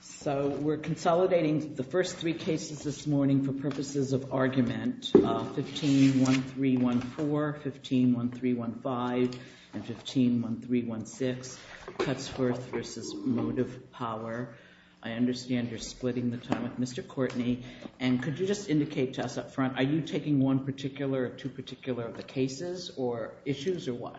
So we're consolidating the first three cases this morning for purposes of argument. 15-1314, 15-1315, and 15-1316, Cutsforth v. MotivePower. I understand you're splitting the time with Mr. Courtney, and could you just indicate to us up front, are you taking one particular or two particular of the cases or issues or what?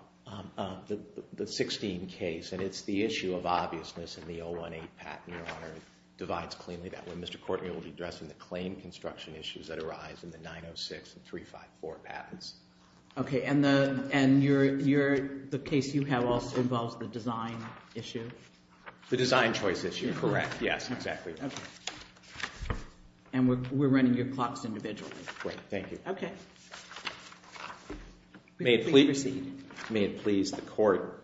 The 16 case, and it's the issue of obviousness in the 018 patent, Your Honor, divides cleanly that way. Mr. Courtney will be addressing the claim construction issues that arise in the 906 and 354 patents. Okay, and the case you have also involves the design issue? The design choice issue, correct. Yes, exactly. And we're running your clocks individually. Great, thank you. Okay. May it please proceed? May it please the Court.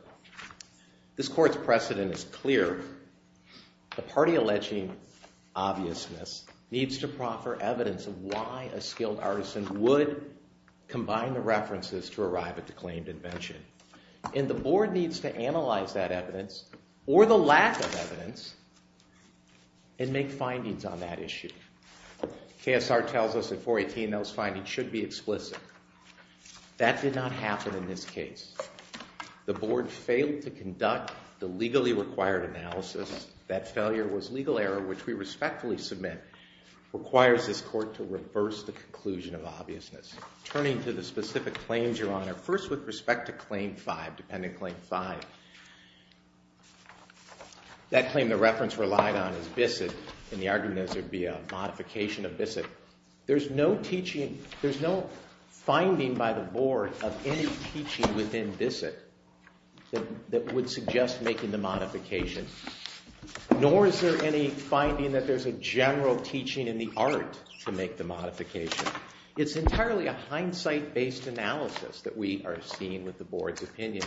This Court's precedent is clear. The party alleging obviousness needs to proffer evidence of why a skilled artisan would combine the references to arrive at the claimed invention. And the Board needs to analyze that evidence, or the lack of evidence, and make findings on that issue. KSR tells us in 418 those findings should be explicit. That did not happen in this case. The Board failed to conduct the legally required analysis. That failure was legal error, which we respectfully submit requires this Court to reverse the conclusion of obviousness. Turning to the specific claims, Your Honor, first with respect to Claim 5, Dependent Claim 5, that claim the reference relied on is BISSET, and the argument is there'd be a modification of BISSET. There's no teaching, there's no finding by the Board of any teaching within BISSET that would suggest making the modification. Nor is there any finding that there's a general teaching in the art to make the modification. It's entirely a hindsight-based analysis that we are seeing with the Board's opinion.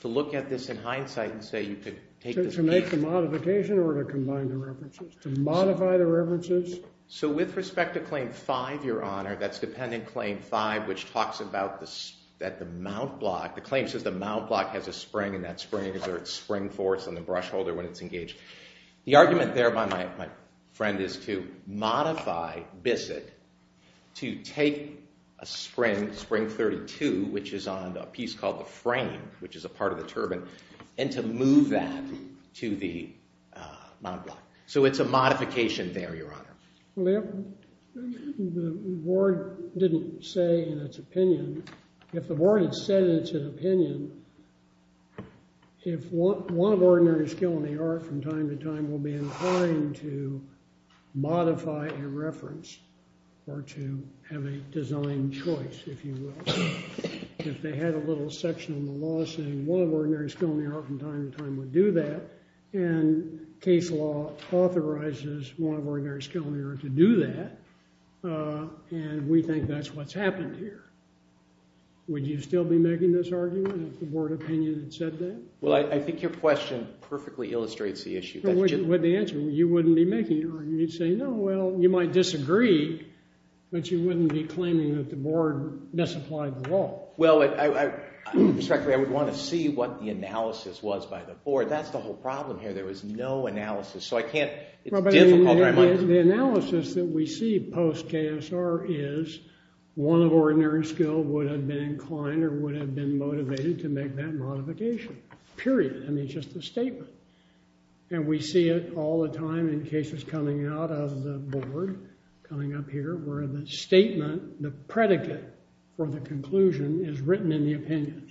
To look at this in hindsight and say you could take this opinion. To make the modification or to combine the references? To modify the references? So with respect to Claim 5, Your Honor, that's Dependent Claim 5, which talks about the mount block. The claim says the mount block has a spring, and that spring exerts spring force on the brush holder when it's engaged. The argument there by my friend is to modify BISSET to take a spring, spring 32, which is on a piece called the frame, which is a part of the turbine, and to move that to the mount block. So it's a modification there, Your Honor. The Board didn't say in its opinion. If the Board had said it's an opinion, if one of ordinary skill in the art from time to time will be inclined to modify a reference, or to have a design choice, if you will. If they had a little section in the law saying one of ordinary skill in the art from time to time would do that, and case law authorizes one of ordinary skill in the art to do that, and we think that's what's happened here. Would you still be making this argument if the Board opinion had said that? Well, I think your question perfectly illustrates the issue. With the answer, you wouldn't be making an argument. You'd say, no, well, you might disagree, but you wouldn't be claiming that the Board misapplied the law. Well, I would want to see what the analysis was by the Board. That's the whole problem here. There was no analysis. So I can't, it's difficult, or I might disagree. The analysis that we see post-KSR is one of ordinary skill would have been inclined or would have been motivated to make that modification, period. I mean, it's just a statement, and we see it all the time in cases coming out of the Board, coming up here, where the statement, the predicate for the conclusion is written in the opinion.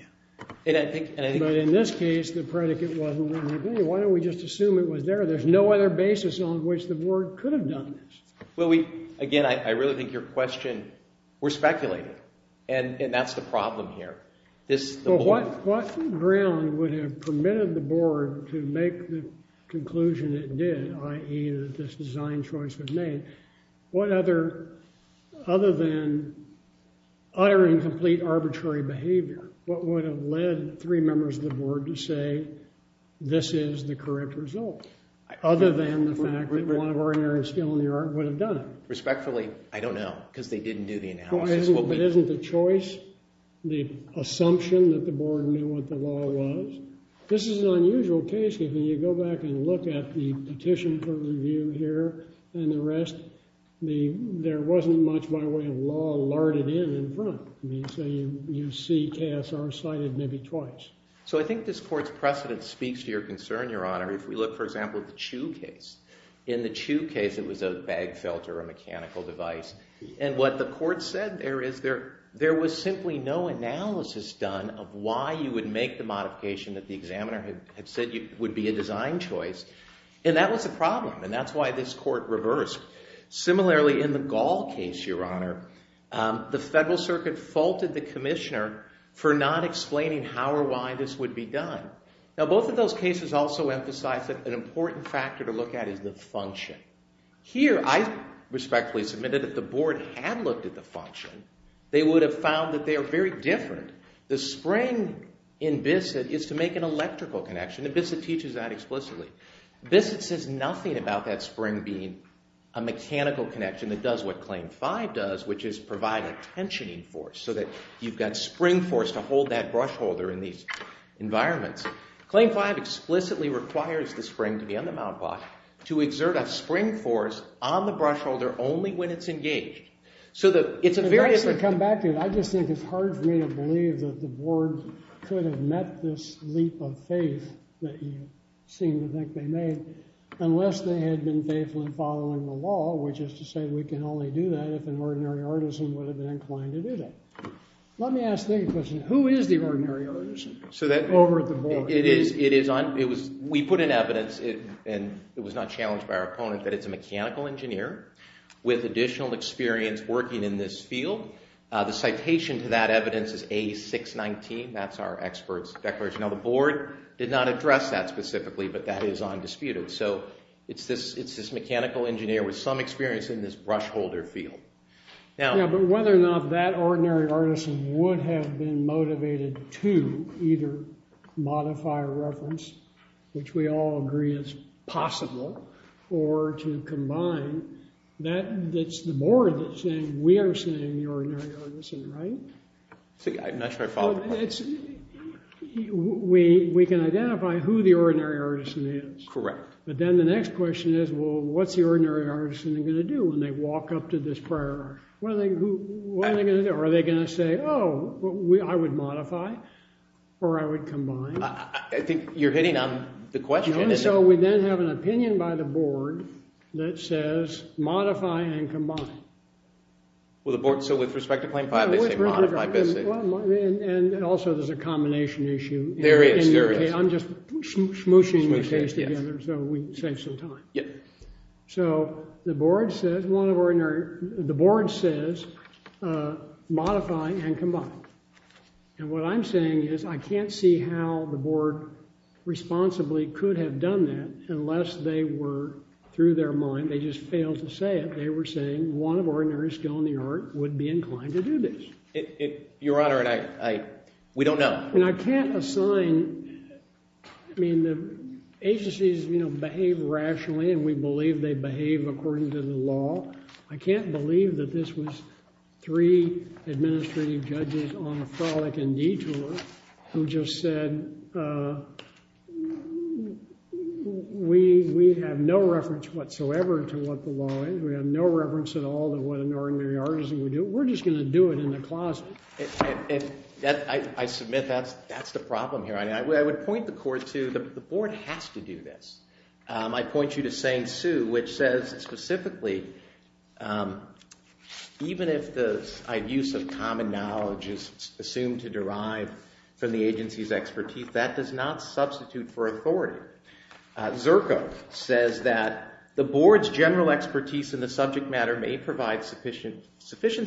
But in this case, the predicate wasn't written in the opinion. Why don't we just assume it was there? There's no other basis on which the Board could have done this. Well, again, I really think your question, we're speculating, and that's the problem here. What ground would have permitted the Board to make the conclusion it did, i.e., that this design choice was made? What other, other than uttering complete arbitrary behavior, what would have led three members of the Board to say, this is the correct result? Other than the fact that one of ordinary skill in the art would have done it. Respectfully, I don't know, because they didn't do the analysis. It isn't the choice, the assumption that the Board knew what the law was. This is an unusual case, if you go back and look at the petition for review here and the rest. There wasn't much, by the way, of law larded in in front, so you see KSR cited maybe twice. So I think this Court's precedent speaks to your concern, Your Honor, if we look, for example, at the Chu case. In the Chu case, it was a bag filter, a mechanical device. And what the Court said there is there was simply no analysis done of why you would make the modification that the examiner had said would be a design choice. And that was a problem, and that's why this Court reversed. Similarly, in the Gall case, Your Honor, the Federal Circuit faulted the Commissioner for not explaining how or why this would be done. Now both of those cases also emphasize that an important factor to look at is the function. Here, I respectfully submitted that the Board had looked at the function. They would have found that they are very different. The spring in BISSETT is to make an electrical connection, and BISSETT teaches that explicitly. BISSETT says nothing about that spring being a mechanical connection that does what Claim 5 does, which is provide a tensioning force so that you've got spring force to hold that brush holder in these environments. Claim 5 explicitly requires the spring to be on the mount block to exert a spring force on the brush holder only when it's engaged. So the, it's a very... I guess to come back to it, I just think it's hard for me to believe that the Board could have met this leap of faith that you seem to think they made, unless they had been faithful in following the law, which is to say we can only do that if an ordinary artisan would have been inclined to do that. Let me ask the question, who is the ordinary artisan over at the Board? It is, it is on, it was, we put in evidence, and it was not challenged by our opponents, that it's a mechanical engineer with additional experience working in this field. The citation to that evidence is A619, that's our expert's declaration. Now the Board did not address that specifically, but that is undisputed. So it's this, it's this mechanical engineer with some experience in this brush holder field. Now... Yeah, but whether or not that ordinary artisan would have been motivated to either modify or reference, which we all agree is possible, or to combine, that's the Board that's saying we are saying the ordinary artisan, right? I'm not sure I follow the question. We can identify who the ordinary artisan is. Correct. But then the next question is, well, what's the ordinary artisan going to do when they walk up to this prior artisan? What are they going to do? Are they going to say, oh, I would modify, or I would combine? I think you're hitting on the question. So we then have an opinion by the Board that says modify and combine. Well, the Board, so with respect to claim five, they say modify, basically. And also there's a combination issue. There is, there is. I'm just smooshing these things together so we save some time. Yeah. So the Board says modify and combine. And what I'm saying is I can't see how the Board responsibly could have done that unless they were, through their mind, they just failed to say it. They were saying one of ordinary skill in the art would be inclined to do this. Your Honor, we don't know. And I can't assign, I mean, the agencies behave rationally, and we believe they behave according to the law. I can't believe that this was three administrative judges on a frolic and detour who just said, we have no reference whatsoever to what the law is. We have no reference at all to what an ordinary artisan would do. We're just going to do it in the closet. I submit that's the problem here. I would point the Court to, the Board has to do this. I point you to St. Sue, which says specifically, even if the use of common knowledge is assumed to derive from the agency's expertise, that does not substitute for authority. Zerko says that the Board's general expertise in the subject matter may provide sufficient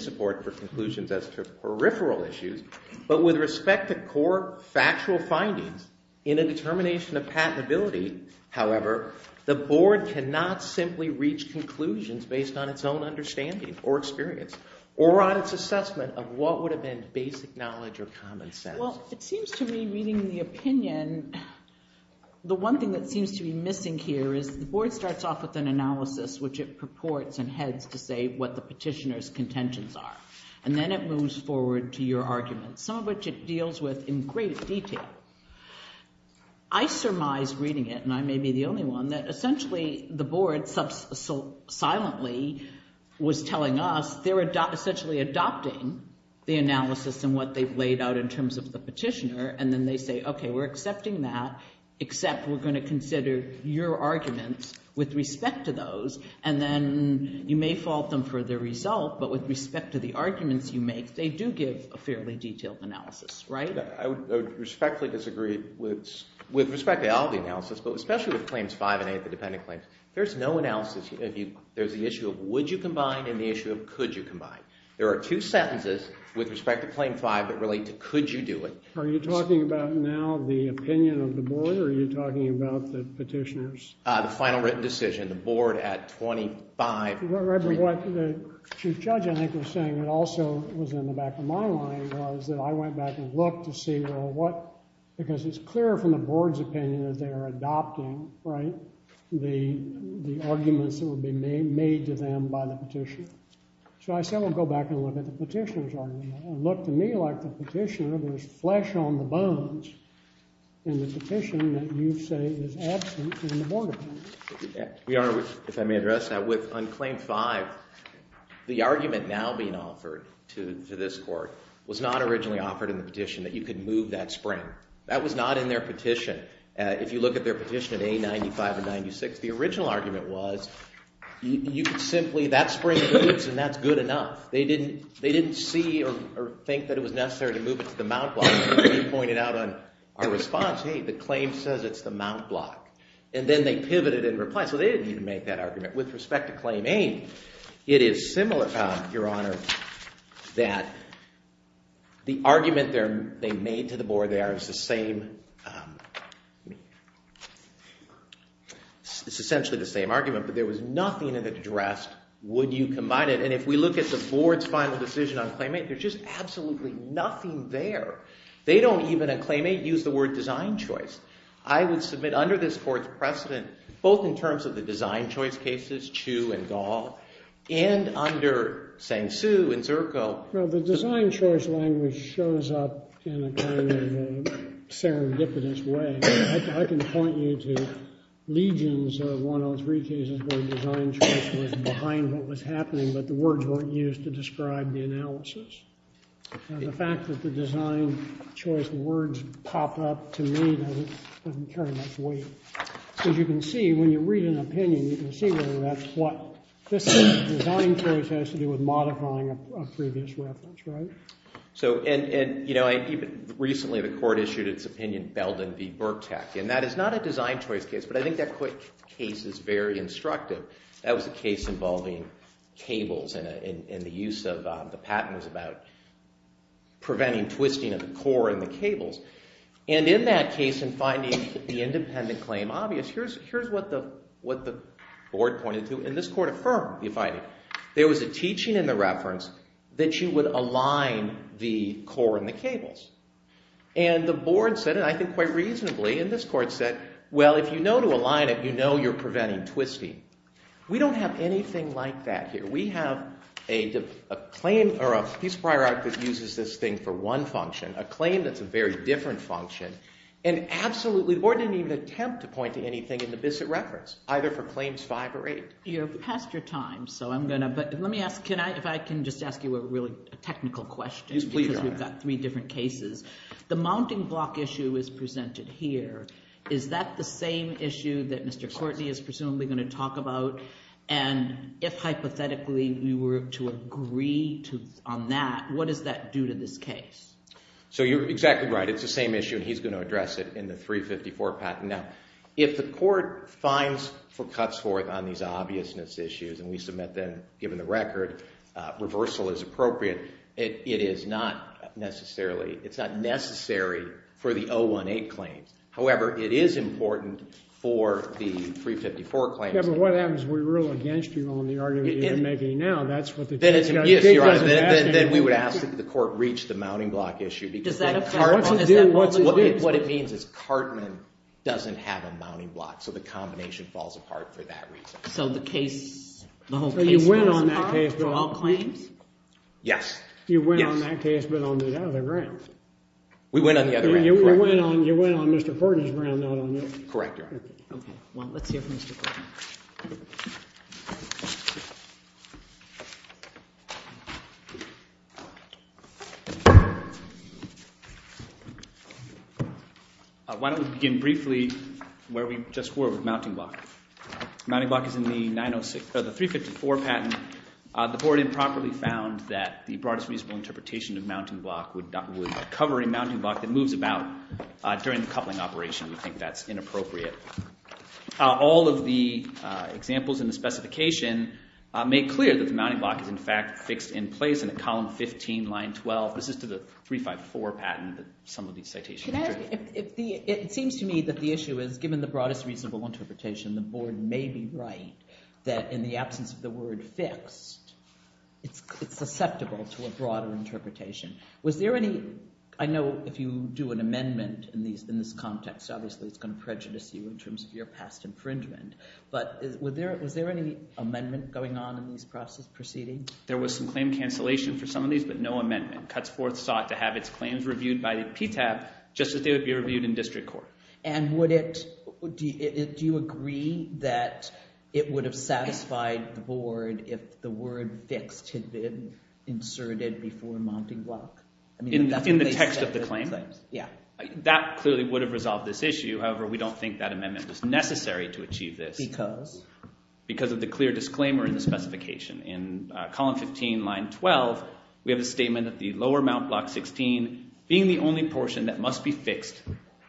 support for conclusions as to peripheral issues, but with respect to core factual findings in a determination of patentability, however, the Board cannot simply reach conclusions based on its own understanding or experience, or on its assessment of what would have been basic knowledge or common sense. Well, it seems to me, reading the opinion, the one thing that seems to be missing here is the Board starts off with an analysis, which it purports and heads to say what the petitioner's contentions are. And then it moves forward to your arguments, some of which it deals with in great detail. I surmise, reading it, and I may be the only one, that essentially the Board, silently, was telling us they're essentially adopting the analysis and what they've laid out in terms of the petitioner. And then they say, OK, we're accepting that, except we're going to consider your arguments with respect to those. And then you may fault them for their result, but with respect to the arguments you make, they do give a fairly detailed analysis, right? I would respectfully disagree with respect to all the analysis, but especially with claims five and eight, the dependent claims. There's no analysis. There's the issue of would you combine and the issue of could you combine. There are two sentences with respect to claim five that relate to could you do it. Are you talking about now the opinion of the Board, or are you talking about the petitioner's? The final written decision. The Board, at 25. Remember what the Chief Judge, I think, was saying, and also was in the back of my mind, was that I went back and looked to see, well, what, because it's clear from the Board's opinion that they are adopting, right, the arguments that would be made to them by the petitioner. So I said, we'll go back and look at the petitioner's argument. It looked to me like the petitioner, there's flesh on the bones in the petition that you say is absent in the Board opinion. We are, if I may address that, with unclaimed five, the argument now being offered to this court was not originally offered in the petition that you could move that spring. That was not in their petition. If you look at their petition at A95 and 96, the original argument was you could simply, that spring boots, and that's good enough. They didn't see or think that it was necessary to move it to the mount block. They pointed out on our response, hey, the claim says it's the mount block. And then they pivoted and replied. So they didn't even make that argument. With respect to claim A, it is similar, Your Honor, that the argument they made to the Board there is the same. It's essentially the same argument, but there was nothing in it addressed, would you combine it? And if we look at the Board's final decision on claim A, there's just absolutely nothing there. They don't even, in claim A, use the word design choice. I would submit under this Court's precedent, both in terms of the design choice cases, Chu and Gall, and under Sang-Soo and Zirko. Well, the design choice language shows up in a kind of serendipitous way. I can point you to legions of 103 cases where design choice was behind what was happening, but the words weren't used to describe the analysis. The fact that the design choice words pop up to me doesn't carry much weight. As you can see, when you read an opinion, you can see where that's what. This design choice has to do with modifying a previous reference, right? So, and you know, even recently the Court issued its opinion, Belden v. Burktach, and that is not a design choice case, but I think that case is very instructive. That was a case involving cables and the use of the patent was about preventing twisting of the core in the cables. And in that case, in finding the independent claim obvious, here's what the Board pointed to. And this Court affirmed, if I, there was a teaching in the reference that you would align the core in the cables. And the Board said, and I think quite reasonably, in this Court said, well, if you know to align it, you know you're preventing twisting. We don't have anything like that here. We have a claim, or a piece of prior art that uses this thing for one function, a claim that's a very different function. And absolutely, the Board didn't even attempt to point to anything in the BISSET reference, either for claims five or eight. You're past your time, so I'm going to, but let me ask, can I, if I can just ask you a really technical question? Yes, please, Your Honor. Because we've got three different cases. The mounting block issue is presented here. Is that the same issue that Mr. Courtney is presumably going to talk about? And if, hypothetically, we were to agree to, on that, what does that do to this case? So you're exactly right. It's the same issue, and he's going to address it in the 354 patent. Now, if the court finds cuts forth on these obviousness issues, and we submit them, given the record, reversal is appropriate, it is not necessarily, it's not necessary for the 018 claims. However, it is important for the 354 claims. Yeah, but what happens if we rule against you on the argument you're making now? That's what the judge doesn't have to do. Yes, Your Honor, then we would ask that the court reach the mounting block issue. Does that apply? What's it do? What it means is Cartman doesn't have a mounting block, so the combination falls apart for that reason. So the case, the whole case falls apart? So you win on that case without claims? Yes. You win on that case, but on the other round. We win on the other round, correct. You win on Mr. Courtney's round, not on yours. Correct, Your Honor. OK, well, let's hear from Mr. Courtney. Why don't we begin briefly where we just were with mounting block. Mounting block is in the 306, the 354 patent. The board improperly found that the broadest reasonable interpretation of mounting block would cover a mounting block that moves about during the coupling operation. We think that's inappropriate. All of the examples in the specification make clear that the mounting block is, in fact, fixed in place in a column 15, line 12. This is to the 354 patent that some of these citations are true. It seems to me that the issue is, given the broadest reasonable interpretation, the board may be right that, in the absence of the word fixed, it's susceptible to a broader interpretation. Was there any, I know if you do an amendment in this context, obviously, it's going to prejudice you in terms of your past infringement. But was there any amendment going on in these proceedings? There was some claim cancellation for some of these, but no amendment. Cuts Forth sought to have its claims reviewed by the PTAB, just as they would be reviewed in district court. And would it, do you agree that it would have satisfied the board if the word fixed had been inserted before mounting block? In the text of the claim? Yeah. That clearly would have resolved this issue. However, we don't think that amendment was necessary to achieve this. Because? Because of the clear disclaimer in the specification. In column 15, line 12, we have a statement that the lower mount block 16 being the only portion that must be fixed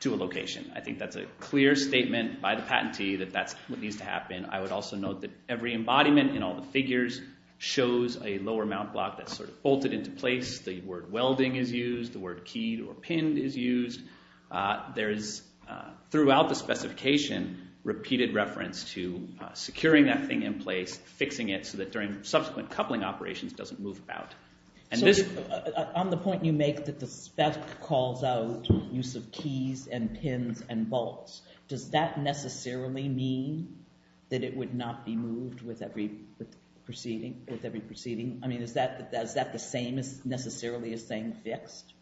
to a location. I think that's a clear statement by the patentee that that's what needs to happen. I would also note that every embodiment in all the figures shows a lower mount block that's sort of bolted into place. The word welding is used. The word keyed or pinned is used. There is, throughout the specification, repeated reference to securing that thing in place, fixing it so that during subsequent coupling operations it doesn't move about. On the point you make that the spec calls out use of keys and pins and bolts, does that necessarily mean that it would not be moved with every proceeding? I mean, is that the same as necessarily as saying fixed?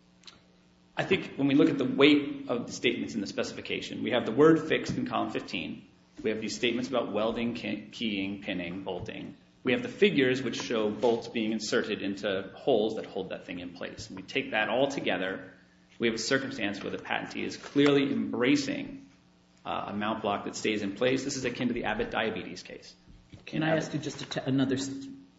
I think when we look at the weight of the statements in the specification, we have the word fixed in column 15. We have these statements about welding, keying, pinning, bolting. We have the figures which show bolts being inserted into holes that hold that thing in place. We take that all together. We have a circumstance where the patentee is clearly embracing a mount block that stays in place. This is akin to the Abbott diabetes case. Can I ask you just another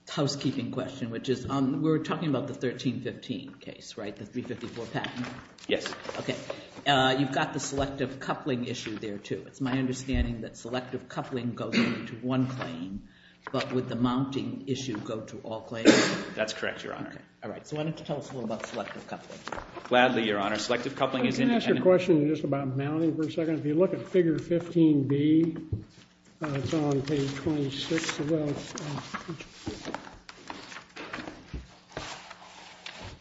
housekeeping question, which is we're talking about the 1315 case, right? The 354 patent? Yes. OK. You've got the selective coupling issue there, too. It's my understanding that selective coupling goes into one claim, but would the mounting issue go to all claims? That's correct, Your Honor. All right. So why don't you tell us a little about selective coupling. Gladly, Your Honor. Selective coupling is independent. Can I ask you a question just about mounting for a second? If you look at figure 15B, it's on page 26 of the statute.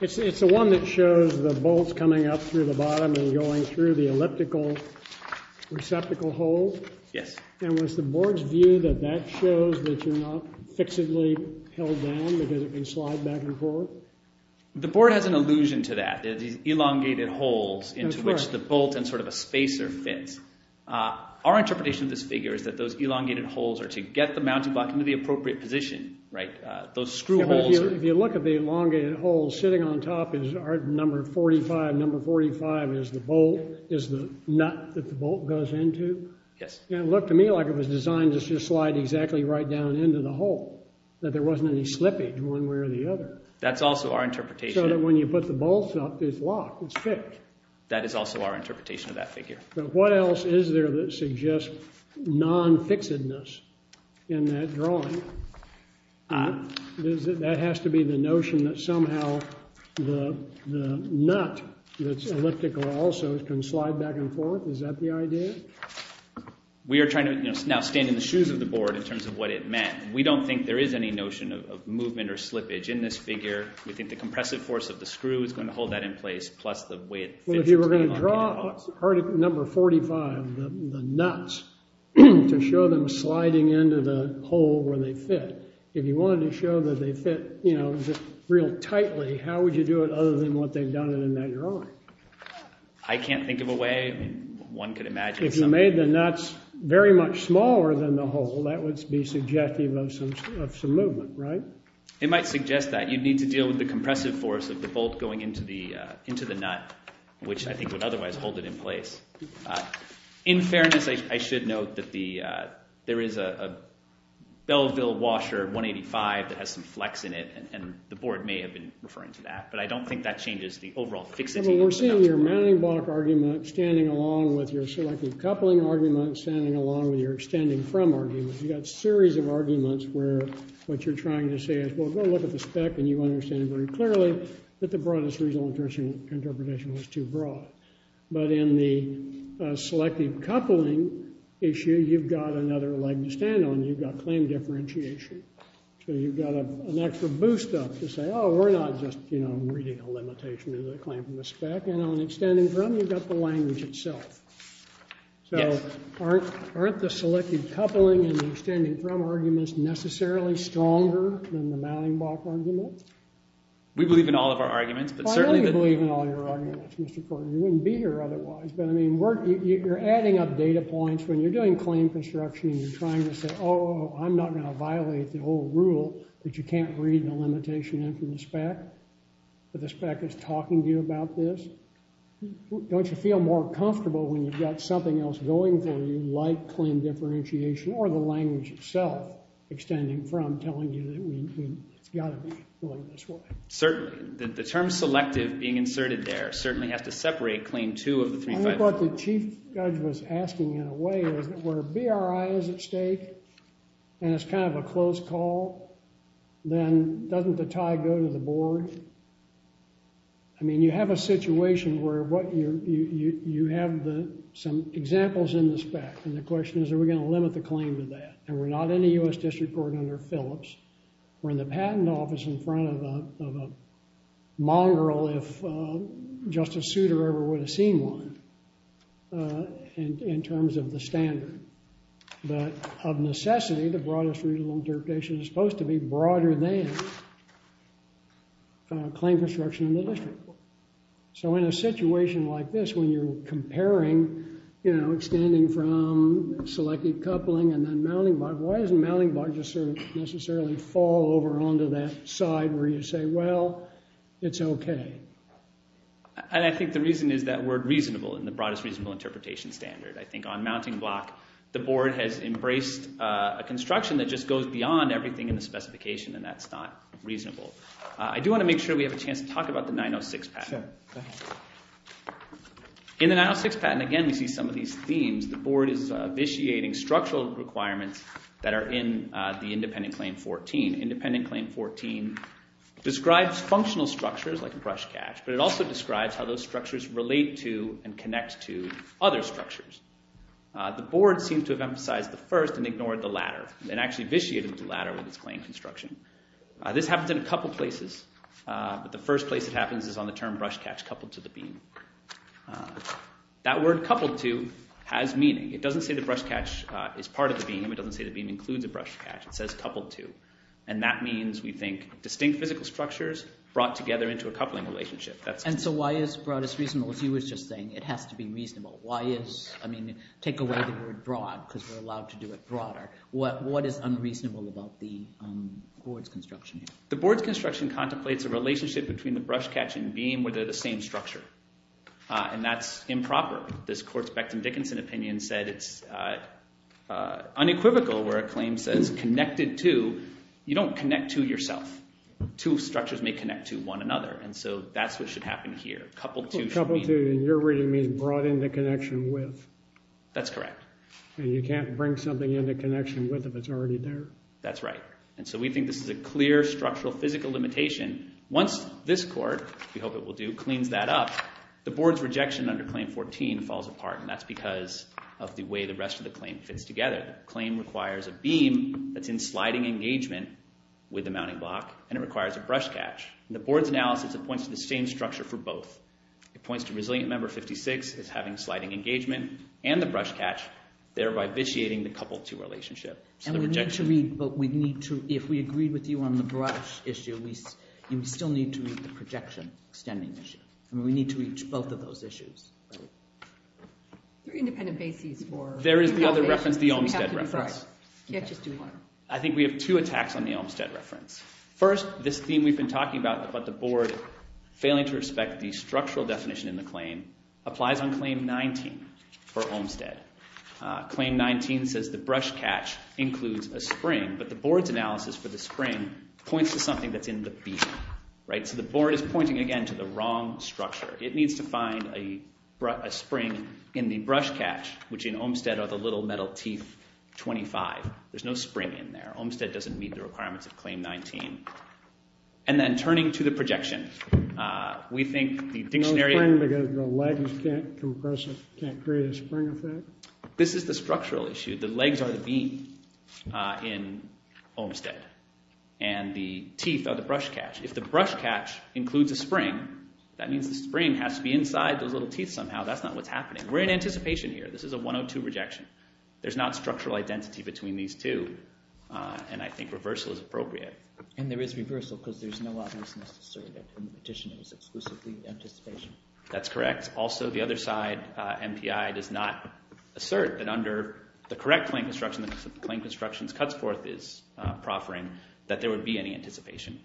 It's the one that shows the bolts coming up through the bottom and going through the elliptical receptacle hole. Yes. And was the board's view that that shows that you're not fixedly held down because it can slide back and forth? The board has an allusion to that. There are these elongated holes into which the bolt and sort of a spacer fits. Our interpretation of this figure is that those elongated holes are to get the mounting block into the appropriate position, right? Those screw holes are- If you look at the elongated holes sitting on top, is number 45, number 45 is the bolt, is the nut that the bolt goes into? Yes. It looked to me like it was designed to just slide exactly right down into the hole, that there wasn't any slippage one way or the other. That's also our interpretation. So that when you put the bolts up, it's locked, it's fixed. That is also our interpretation of that figure. What else is there that suggests non-fixedness in that drawing? That has to be the notion that somehow the nut that's elliptical also can slide back and forth. Is that the idea? We are trying to now stand in the shoes of the board in terms of what it meant. We don't think there is any notion of movement or slippage in this figure. We think the compressive force of the screw is going to hold that in place, plus the way it fits. Well, if you were going to draw number 45, the nuts, to show them sliding into the hole where they fit, if you wanted to show that they fit real tightly, how would you do it other than what they've done in that drawing? I can't think of a way one could imagine. If you made the nuts very much smaller than the hole, that would be suggestive of some movement, right? It might suggest that. You'd need to deal with the compressive force of the bolt going into the nut, which I think would otherwise hold it in place. In fairness, I should note that there is a Belleville washer 185 that has some flex in it, and the board may have been referring to that. But I don't think that changes the overall fixity. We're seeing your mounting block argument standing along with your selective coupling argument, standing along with your extending from argument. You've got a series of arguments where what you're trying to say is, well, go look at the spec, and you understand very clearly that the broadest reasonable interpretation was too broad. But in the selective coupling issue, you've got another leg to stand on. You've got claim differentiation. So you've got an extra boost up to say, oh, we're not just reading a limitation of the claim from the spec. And on extending from, you've got the language itself. So aren't the selective coupling and the extending from arguments necessarily stronger than the mounting block argument? We believe in all of our arguments, but certainly the Well, I don't believe in all your arguments, Mr. Corden. You wouldn't be here otherwise. But I mean, you're adding up data points when you're doing claim construction, and you're trying to say, oh, I'm not going to violate the whole rule that you can't read the limitation in from the spec, but the spec is talking to you about this. Don't you feel more comfortable when you've got something else going for you, like claim differentiation or the language itself, extending from telling you that we've got to be going this way? Certainly. The term selective being inserted there certainly has to separate claim two of the three, five, four. What the chief judge was asking, in a way, is that where BRI is at stake, and it's kind of a close call, then doesn't the tie go to the board? I mean, you have a situation where you have some examples in the spec, and the question is, are we going to limit the claim to that? And we're not in the US District Court under Phillips. We're in the patent office in front of a mongrel, if Justice Souter ever would have seen one, in terms of the standard. But of necessity, the broadest reasonable interpretation is supposed to be broader than claim construction in the district court. So in a situation like this, when you're comparing, extending from selective coupling and then mounting block, why doesn't mounting block just necessarily fall over onto that side where you say, well, it's OK? And I think the reason is that word reasonable in the broadest reasonable interpretation standard. I think on mounting block, the board has embraced a construction that just goes beyond everything in the specification, and that's not reasonable. I do want to make sure we have a chance to talk about the 906 patent. In the 906 patent, again, we see some of these themes. The board is vitiating structural requirements that are in the independent claim 14. Independent claim 14 describes functional structures, like a brush cache, but it also describes how those structures relate to and connect to other structures. The board seems to have emphasized the first and ignored the latter, and actually vitiated the latter with its claim construction. This happens in a couple places, but the first place it happens is on the term brush cache coupled to the beam. That word coupled to has meaning. It doesn't say the brush catch is part of the beam. It doesn't say the beam includes a brush catch. It says coupled to. And that means, we think, distinct physical structures brought together into a coupling relationship. And so why is broadest reasonable? As you were just saying, it has to be reasonable. I mean, take away the word broad, because we're allowed to do it broader. What is unreasonable about the board's construction? The board's construction contemplates a relationship between the brush catch and beam, where they're the same structure. And that's improper. This court's Becton Dickinson opinion said it's unequivocal, where a claim says connected to. You don't connect to yourself. Two structures may connect to one another. And so that's what should happen here. Coupled to should mean. Coupled to, in your reading, means brought into connection with. That's correct. And you can't bring something into connection with if it's already there. That's right. And so we think this is a clear structural physical limitation. Once this court, we hope it will do, cleans that up, the board's rejection under claim 14 falls apart. And that's because of the way the rest of the claim fits together. Claim requires a beam that's in sliding engagement with the mounting block. And it requires a brush catch. The board's analysis points to the same structure for both. It points to resilient member 56 as having sliding engagement. And the brush catch, thereby vitiating the coupled to relationship. And we need to read, but we need to, if we agreed with you on the brush issue, we still need to read the projection extending issue. And we need to reach both of those issues. They're independent bases for. There is the other reference, the Olmstead reference. You can't just do one. I think we have two attacks on the Olmstead reference. First, this theme we've been talking about, about the board failing to respect the structural definition in the claim, applies on claim 19 for Olmstead. Claim 19 says the brush catch includes a spring. But the board's analysis for the spring points to something that's in the beam. So the board is pointing, again, to the wrong structure. It needs to find a spring in the brush catch, which in Olmstead are the little metal teeth 25. There's no spring in there. Olmstead doesn't meet the requirements of claim 19. And then turning to the projection, we think the dictionary. Because the legs can't compress it, can't create a spring effect? This is the structural issue. The legs are the beam in Olmstead. And the teeth are the brush catch. If the brush catch includes a spring, that means the spring has to be inside those little teeth somehow. That's not what's happening. We're in anticipation here. This is a 102 rejection. There's not structural identity between these two. And I think reversal is appropriate. And there is reversal, because there's no obviousness to say that the petition is exclusively anticipation. That's correct. Also, the other side, MPI, does not assert that under the correct claim construction, the claim construction's cuts forth is proffering, that there would be any anticipation.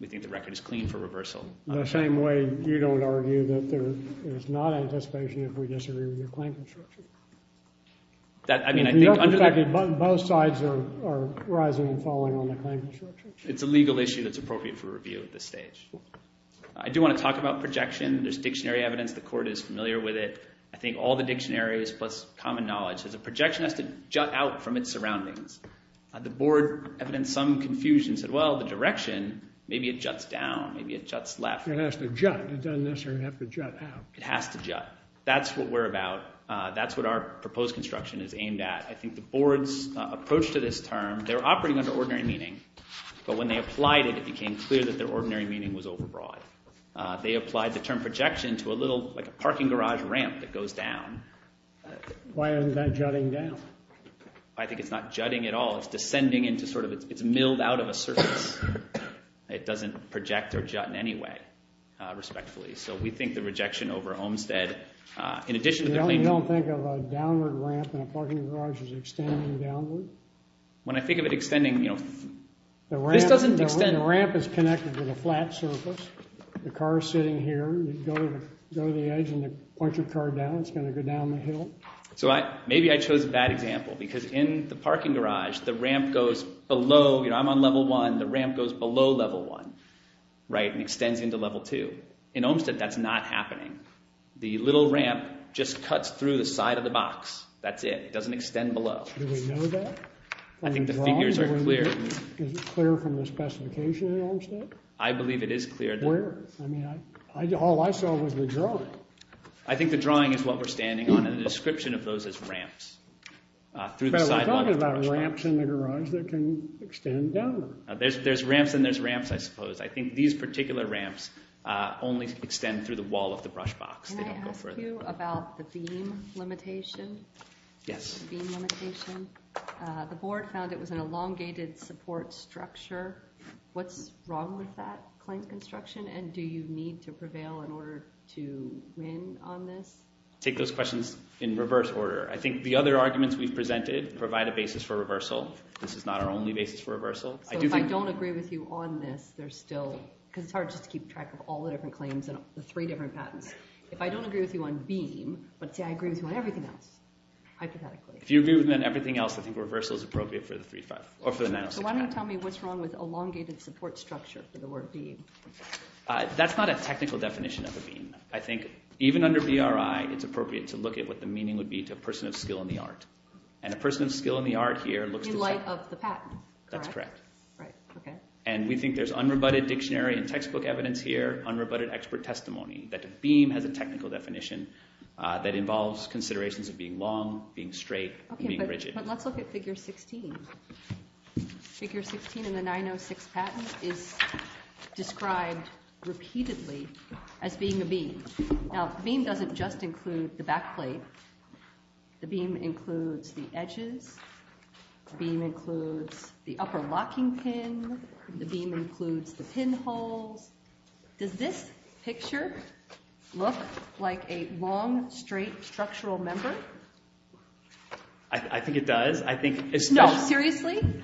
We think the record is clean for reversal. The same way you don't argue that there is not anticipation if we disagree with your claim construction. I mean, I think under the fact that both sides are rising and falling on the claim construction. It's a legal issue that's appropriate for review at this stage. I do want to talk about projection. There's dictionary evidence. The court is familiar with it. I think all the dictionaries plus common knowledge. There's a projection that has to jut out from its surroundings. The board evidenced some confusion and said, well, the direction, maybe it juts down. Maybe it juts left. It has to jut. It doesn't necessarily have to jut out. It has to jut. That's what we're about. That's what our proposed construction is aimed at. I think the board's approach to this term, they're operating under ordinary meaning. But when they applied it, it became clear that their ordinary meaning was overbroad. They applied the term projection to a little, like a parking garage ramp that goes down. Why isn't that jutting down? I think it's not jutting at all. It's descending into sort of, it's milled out of a surface. It doesn't project or jut in any way, respectfully. So we think the rejection over Olmstead, in addition to the claimant. You don't think of a downward ramp in a parking garage as extending downward? When I think of it extending, you know, this doesn't extend. And the ramp is connected to the flat surface. The car's sitting here. You go to the edge, and they point your car down. It's going to go down the hill. So maybe I chose a bad example, because in the parking garage, the ramp goes below. I'm on level one. The ramp goes below level one and extends into level two. In Olmstead, that's not happening. The little ramp just cuts through the side of the box. That's it. It doesn't extend below. Do we know that? I think the figures are clear. Is it clear from the specification in Olmstead? I believe it is clear. Where? I mean, all I saw was the drawing. I think the drawing is what we're standing on in the description of those as ramps through the sidewalk. But we're talking about ramps in the garage that can extend downward. There's ramps, and there's ramps, I suppose. I think these particular ramps only extend through the wall of the brush box. They don't go further. Can I ask you about the beam limitation? Yes. The beam limitation. The board found it was an elongated support structure. What's wrong with that claim construction? And do you need to prevail in order to win on this? Take those questions in reverse order. I think the other arguments we've presented provide a basis for reversal. This is not our only basis for reversal. So if I don't agree with you on this, there's still, because it's hard just to keep track of all the different claims and the three different patents. If I don't agree with you on beam, but say I agree with you on everything else, hypothetically. If you agree with me on everything else, I think reversal is appropriate for the 906 patent. So why don't you tell me what's wrong with elongated support structure for the word beam? That's not a technical definition of a beam. I think even under BRI, it's appropriate to look at what the meaning would be to a person of skill in the art. And a person of skill in the art here looks to set up the patent. That's correct. And we think there's unrebutted dictionary and textbook evidence here, unrebutted expert testimony, that a beam has a technical definition that But let's look at figure 16. Figure 16 in the 906 patent is described repeatedly as being a beam. Now, a beam doesn't just include the back plate. The beam includes the edges. The beam includes the upper locking pin. The beam includes the pinholes. Does this picture look like a long, straight, structural member? I think it does. I think it's tough. No, seriously?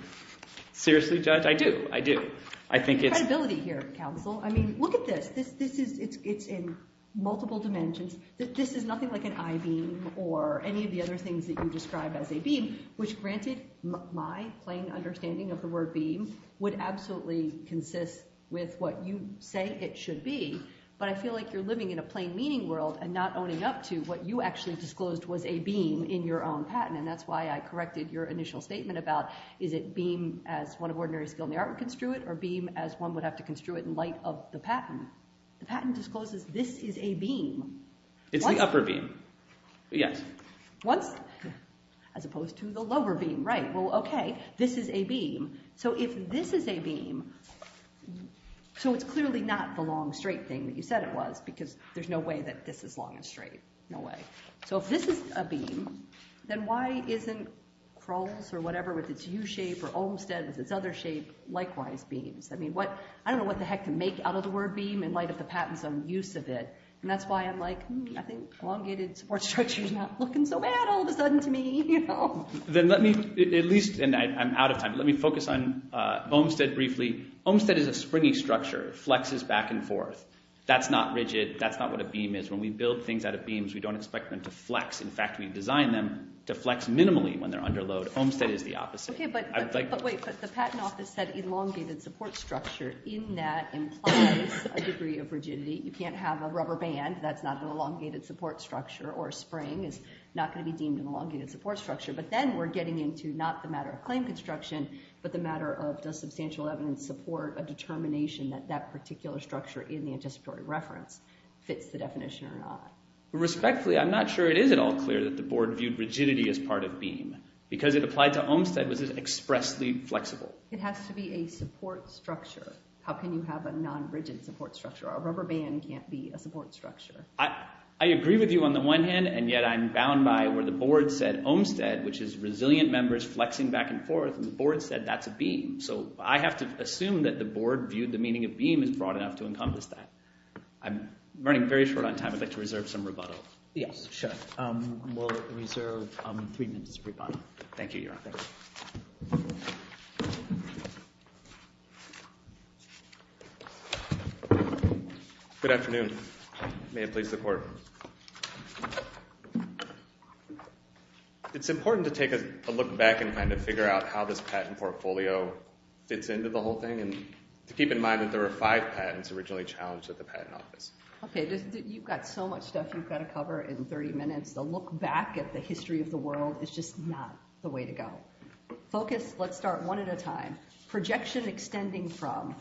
Seriously, Judge, I do. I do. I think it's credibility here, counsel. I mean, look at this. It's in multiple dimensions. This is nothing like an I-beam or any of the other things that you describe as a beam, which granted, my plain understanding of the word beam would absolutely consist with what you say it should be. But I feel like you're living in a plain meaning world and not owning up to what you actually disclosed was a beam in your own patent. And that's why I corrected your initial statement about, is it beam as one of ordinary skill in the art would construe it, or beam as one would have to construe it in light of the patent? The patent discloses this is a beam. It's the upper beam, yes. As opposed to the lower beam, right. Well, OK, this is a beam. So if this is a beam, so it's clearly not the long, straight thing that you said it was because there's no way that this is long and straight. No way. So if this is a beam, then why isn't Kroll's or whatever with its U shape or Olmstead with its other shape likewise beams? I mean, I don't know what the heck to make out of the word beam in light of the patent's own use of it. And that's why I'm like, hmm, I think elongated support structure is not looking so bad all of a sudden to me. Then let me, at least, and I'm out of time, let me focus on Olmstead briefly. Olmstead is a springy structure. It flexes back and forth. That's not rigid. That's not what a beam is. When we build things out of beams, we don't expect them to flex. In fact, we design them to flex minimally when they're under load. Olmstead is the opposite. OK, but wait. But the patent office said elongated support structure. In that implies a degree of rigidity. You can't have a rubber band. That's not an elongated support structure. Or a spring is not going to be deemed an elongated support structure. But then we're getting into not the matter of claim construction, but the matter of does substantial evidence support a determination that that particular structure in the anticipatory reference fits the definition or not. Respectfully, I'm not sure it is at all clear that the board viewed rigidity as part of beam. Because it applied to Olmstead, was it expressly flexible? It has to be a support structure. How can you have a non-rigid support structure? A rubber band can't be a support structure. I agree with you on the one hand. And yet, I'm bound by where the board said Olmstead, which is resilient members flexing back and forth, and the board said that's a beam. So I have to assume that the board viewed the meaning of beam as broad enough to encompass that. I'm running very short on time. I'd like to reserve some rebuttal. Yes, sure. We'll reserve three minutes of rebuttal. Thank you, Your Honor. Good afternoon. May it please the court. It's important to take a look back and kind of figure out how this patent portfolio fits into the whole thing. And to keep in mind that there were five patents originally challenged at the patent office. OK, you've got so much stuff you've got to cover in 30 minutes. The look back at the history of the world is just not the way to go. Focus, let's start one at a time. Projection extending from.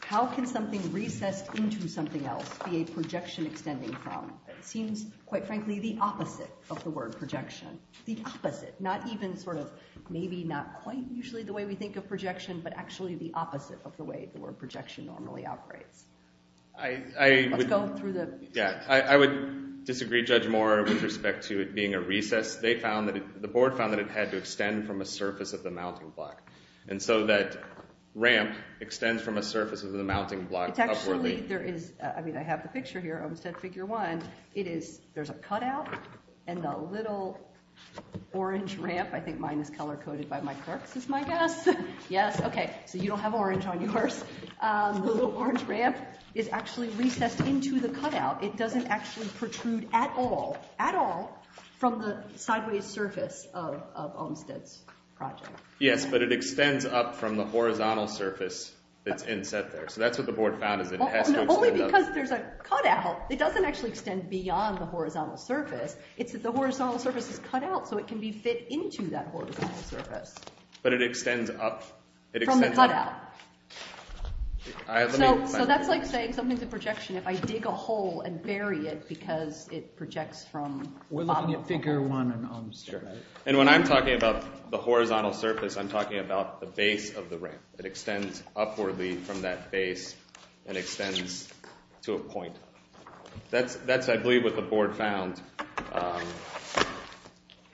How can something recessed into something else be a projection extending from? Seems, quite frankly, the opposite of the word projection, the opposite. Not even sort of maybe not quite usually the way we think of projection, but actually the opposite of the way the word projection normally operates. I would disagree, Judge Moore, with respect to it being a recess. The board found that it had to extend from a surface of the mounting block. And so that ramp extends from a surface of the mounting block upwardly. I mean, I have the picture here of figure one. There's a cut out. And the little orange ramp, I think mine is color coded by my clerks, is my guess. Yes, OK, so you don't have orange on yours. The little orange ramp is actually recessed into the cut out. It doesn't actually protrude at all, at all from the sideways surface of Olmstead's project. Yes, but it extends up from the horizontal surface that's inset there. So that's what the board found is that it has to extend up. Only because there's a cut out. It doesn't actually extend beyond the horizontal surface. It's that the horizontal surface is cut out, so it can be fit into that horizontal surface. But it extends up. From the cut out. So that's like saying something's a projection if I dig a hole and bury it because it projects from the bottom. We're looking at figure one on Olmstead, right? And when I'm talking about the horizontal surface, I'm talking about the base of the ramp. It extends upwardly from that base and extends to a point. That's, I believe, what the board found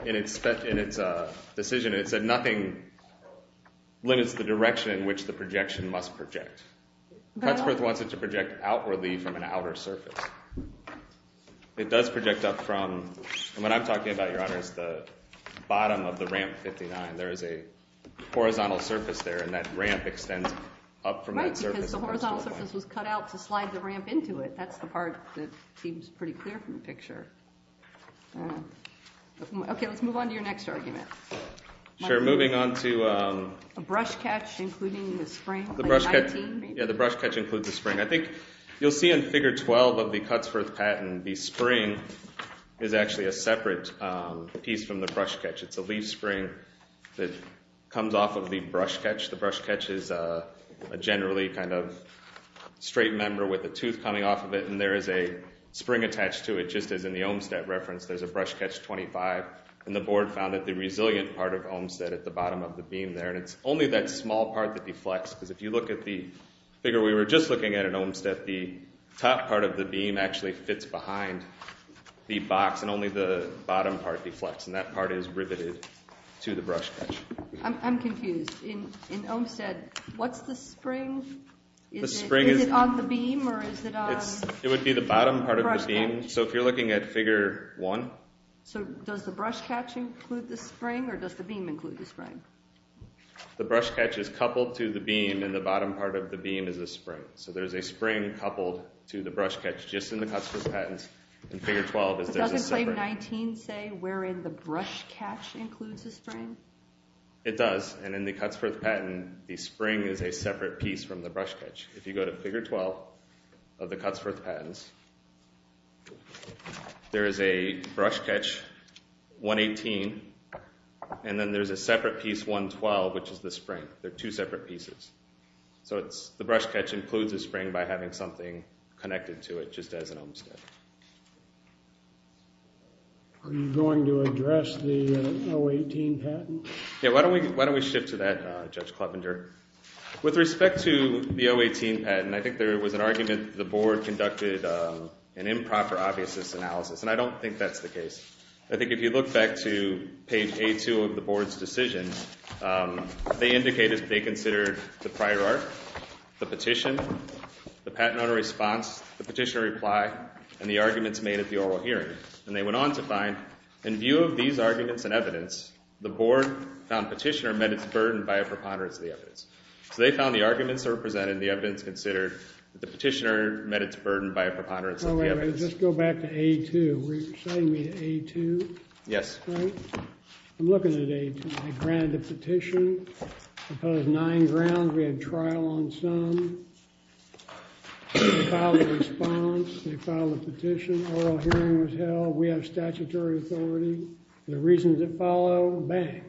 in its decision. It said nothing limits the direction in which the projection must project. Cutsworth wants it to project outwardly from an outer surface. It does project up from, and what I'm talking about, Your Honor, is the bottom of the ramp 59. There is a horizontal surface there, and that ramp extends up from that surface. Right, because the horizontal surface was cut out to slide the ramp into it. That's the part that seems pretty clear from the picture. OK, let's move on to your next argument. Sure, moving on to a brush catch including the spring. The brush catch includes the spring. I think you'll see in figure 12 of the Cutsworth patent, the spring is actually a separate piece from the brush catch. It's a leaf spring that comes off of the brush catch. The brush catch is a generally kind of straight member with a tooth coming off of it, and there is a spring attached to it, just as in the Olmstead reference. There's a brush catch 25, and the board found that the resilient part of Olmstead at the bottom of the beam there, and it's only that small part that deflects, because if you look at the figure we were just looking at in Olmstead, the top part of the beam actually fits behind the box, and only the bottom part deflects, and that part is riveted to the brush catch. I'm confused. In Olmstead, what's the spring? The spring is on the beam, or is it on the brush catch? It would be the bottom part of the beam. So if you're looking at figure 1. So does the brush catch include the spring, or does the beam include the spring? The brush catch is coupled to the beam, and the bottom part of the beam is the spring. So there's a spring coupled to the brush catch, just in the Cutsworth patent. In figure 12, there's a separate. Doesn't claim 19 say wherein the brush catch includes the spring? It does, and in the Cutsworth patent, the spring is a separate piece from the brush catch. If you go to figure 12 of the Cutsworth patents, there is a brush catch, 118, and then there's a separate piece, 112, which is the spring. They're two separate pieces. So the brush catch includes the spring by having something connected to it, just as in Olmstead. Are you going to address the 018 patent? Yeah, why don't we shift to that, Judge Clevenger? With respect to the 018 patent, I think there was an argument the board conducted an improper obviousness analysis, and I don't think that's the case. I think if you look back to page A2 of the board's decisions, they indicated they considered the prior art, the petition, the patent owner response, the petitioner reply, and the arguments made at the oral hearing. And they went on to find, in view of these arguments and evidence, the board found petitioner met its burden by a preponderance of the evidence. So they found the arguments that were presented and the evidence considered that the petitioner met its burden by a preponderance of the evidence. Let's go back to A2. Were you sending me to A2? Yes. I'm looking at A2. I granted the petition. It was nine grounds. We had trial on some. We filed a response. We filed a petition. Oral hearing was held. We have statutory authority. The reasons that follow, bang.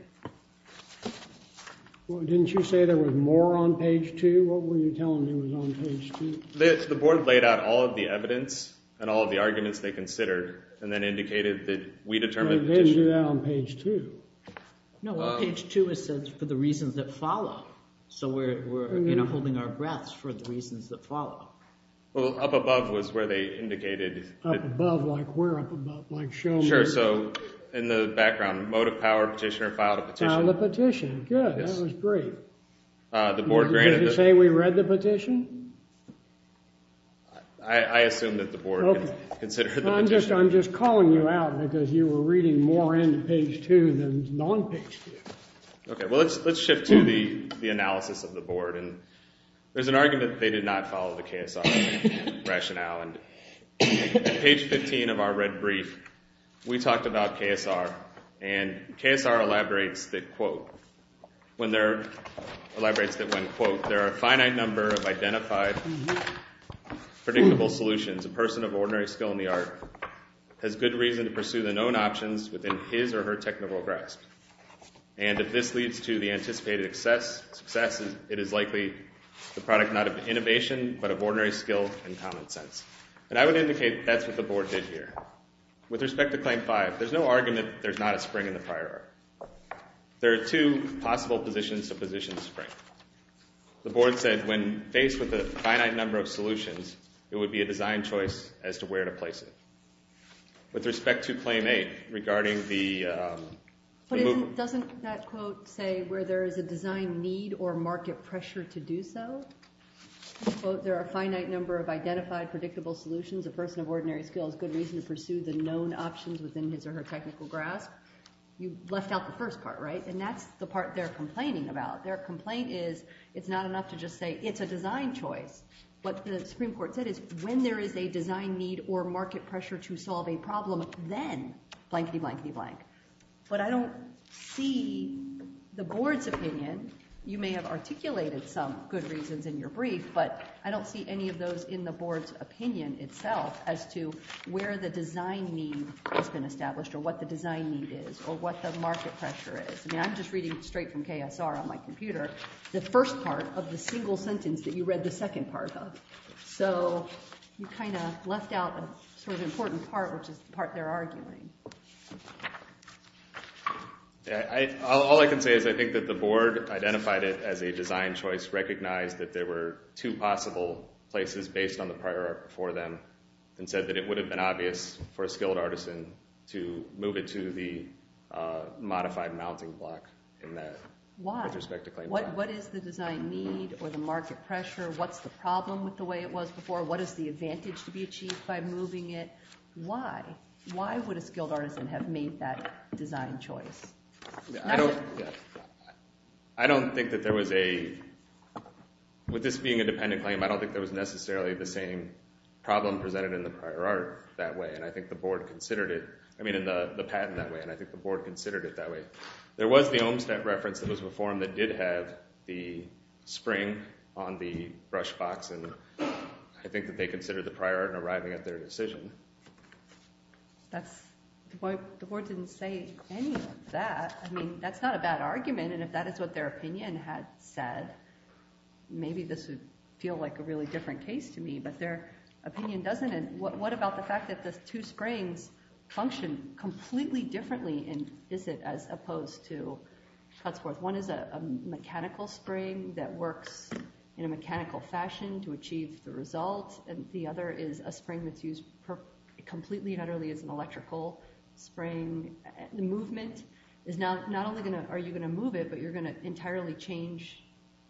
Didn't you say there was more on page two? What were you telling me was on page two? The board laid out all of the evidence and all of the arguments they considered and then indicated that we determined the petitioner. They didn't do that on page two. No, on page two it said, for the reasons that follow. So we're holding our breaths for the reasons that follow. Well, up above was where they indicated. Up above, like where up above? Like show me. Sure. So in the background, motive, power, petitioner, filed a petition. Filed a petition. Good. That was great. The board granted. Did you say we read the petition? I assume that the board considered the petition. I'm just calling you out because you were reading more into page two than non-page two. OK, well, let's shift to the analysis of the board. And there's an argument that they did not follow the KSR rationale. On page 15 of our red brief, we talked about KSR. And KSR elaborates that, quote, when they're, elaborates that when, quote, there are a finite number of identified, predictable solutions, a person of ordinary skill in the art has good reason to pursue the known options within his or her technical grasp. And if this leads to the anticipated success, it is likely the product not of innovation, but of ordinary skill and common sense. And I would indicate that's what the board did here. With respect to claim five, there's no argument there's not a spring in the prior art. There are two possible positions to position the spring. The board said, when faced with a finite number of solutions, it would be a design choice as to where to place it. With respect to claim eight, regarding the move. Doesn't that quote say where there is a design need or market pressure to do so? Quote, there are a finite number of identified, predictable solutions, a person of ordinary skill has good reason to pursue the known options within his or her technical grasp. You left out the first part, right? And that's the part they're complaining about. Their complaint is, it's not enough to just say, it's a design choice. What the Supreme Court said is, when there is a design need or market pressure to solve a problem, then blankety blankety blank. But I don't see the board's opinion. You may have articulated some good reasons in your brief, but I don't see any of those in the board's opinion itself as to where the design need has been established or what the design need is or what the market pressure is. I mean, I'm just reading straight from KSR on my computer the first part of the single sentence that you read the second part of. So you kind of left out the sort of important part, which is the part they're arguing. Yeah, all I can say is I think that the board identified it as a design choice, recognized that there were two possible places based on the prior art before them, and said that it would have been obvious for a skilled artisan to move it to the modified mounting block in that, with respect to Clayton Park. Why? What is the design need or the market pressure? What's the problem with the way it was before? What is the advantage to be achieved by moving it? Why? Why would a skilled artisan have made that design choice? With this being a dependent claim, I don't think there was necessarily the same problem presented in the prior art that way. And I think the board considered it. I mean, in the patent that way. And I think the board considered it that way. There was the Olmstead reference that was before them that did have the spring on the brush box. And I think that they considered the prior art in arriving at their decision. That's the point. The board didn't say any of that. I mean, that's not a bad argument. And if that is what their opinion had said, maybe this would feel like a really different case to me. But their opinion doesn't. And what about the fact that the two springs function completely differently in Iset as opposed to Cutsworth? One is a mechanical spring that works in a mechanical fashion to achieve the result. And the other is a spring that's used completely and utterly as an electrical spring. The movement is not only are you going to move it, but you're going to entirely change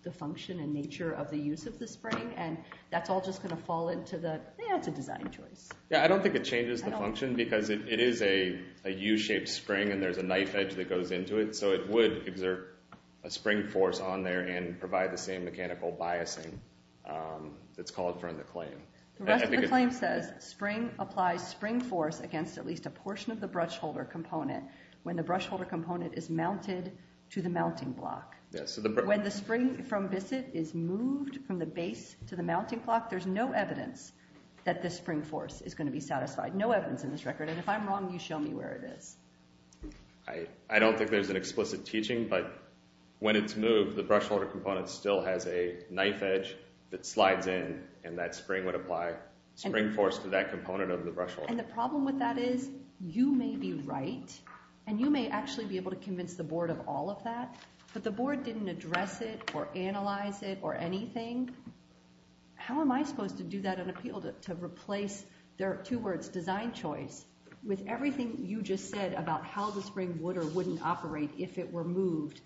the function and nature of the use of the spring. And that's all just going to fall into the, yeah, it's a design choice. Yeah, I don't think it changes the function because it is a U-shaped spring and there's a knife edge that goes into it. So it would exert a spring force on there and provide the same mechanical biasing that's called for in the claim. The rest of the claim says spring applies spring force against at least a portion of the brush holder component when the brush holder component is mounted to the mounting block. When the spring from Iset is moved from the base to the mounting block, there's no evidence that this spring force is going to be satisfied. No evidence in this record. And if I'm wrong, you show me where it is. I don't think there's an explicit teaching, but when it's moved, the brush holder component still has a knife edge that slides in and that spring would apply spring force to that component of the brush holder. And the problem with that is you may be right and you may actually be able to convince the board of all of that, but the board didn't address it or analyze it or anything. How am I supposed to do that and appeal to replace, there are two words, design choice, with everything you just said about how the spring would or wouldn't operate if it were moved.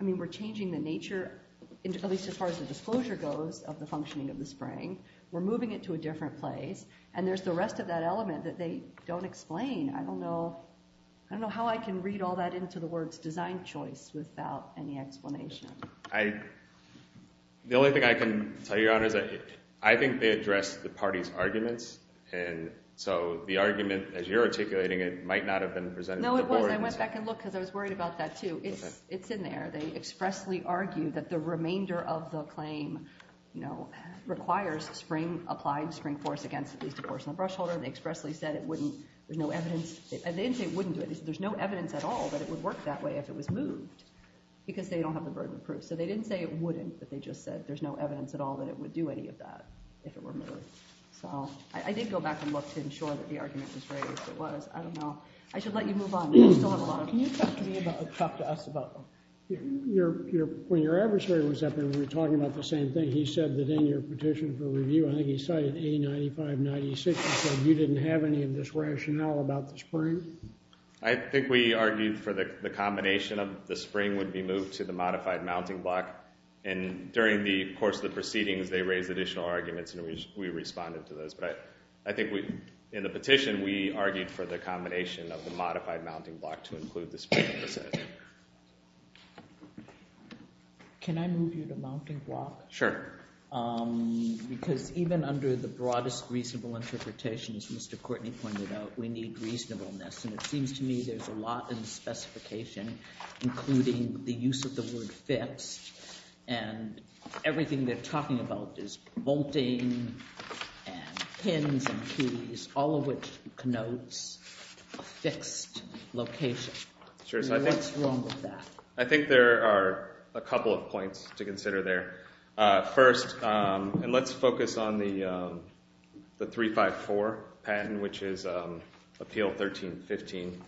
I mean, we're changing the nature, at least as far as the disclosure goes of the functioning of the spring. We're moving it to a different place and there's the rest of that element that they don't explain. I don't know how I can read all that into the words design choice without any explanation. The only thing I can tell you, Your Honor, is that I think they addressed the party's arguments and so the argument, as you're articulating it, might not have been presented to the board. No, it wasn't. I went back and looked because I was worried about that too. It's in there. They expressly argue that the remainder of the claim requires applying spring force against at least a porcelain brush holder. They expressly said it wouldn't, there's no evidence, and they didn't say it wouldn't do it. They said there's no evidence at all that it would work that way if it was moved because they don't have the burden of proof. So they didn't say it wouldn't, but they just said there's no evidence at all that it would do any of that if it were moved. So I did go back and look to ensure that the argument was raised. It was, I don't know. I should let you move on. You still have a lot of, can you talk to me about, talk to us about when your adversary was up there and we were talking about the same thing, he said that in your petition for review, I think he cited A95-96. He said you didn't have any of this rationale about the spring. I think we argued for the combination of the spring would be moved to the modified mounting block, and during the course of the proceedings, they raised additional arguments, and we responded to those, but I think in the petition, we argued for the combination of the modified mounting block to include the spring. Can I move you to mounting block? Sure. Because even under the broadest reasonable interpretations, Mr. Courtney pointed out, we need reasonableness, and it seems to me there's a lot in the specification, including the use of the word fixed, and everything they're talking about is bolting and pins and keys, all of which connotes a fixed location. Sure, so I think- What's wrong with that? I think there are a couple of points to consider there. First, and let's focus on the 354 patent, which is Appeal 1315.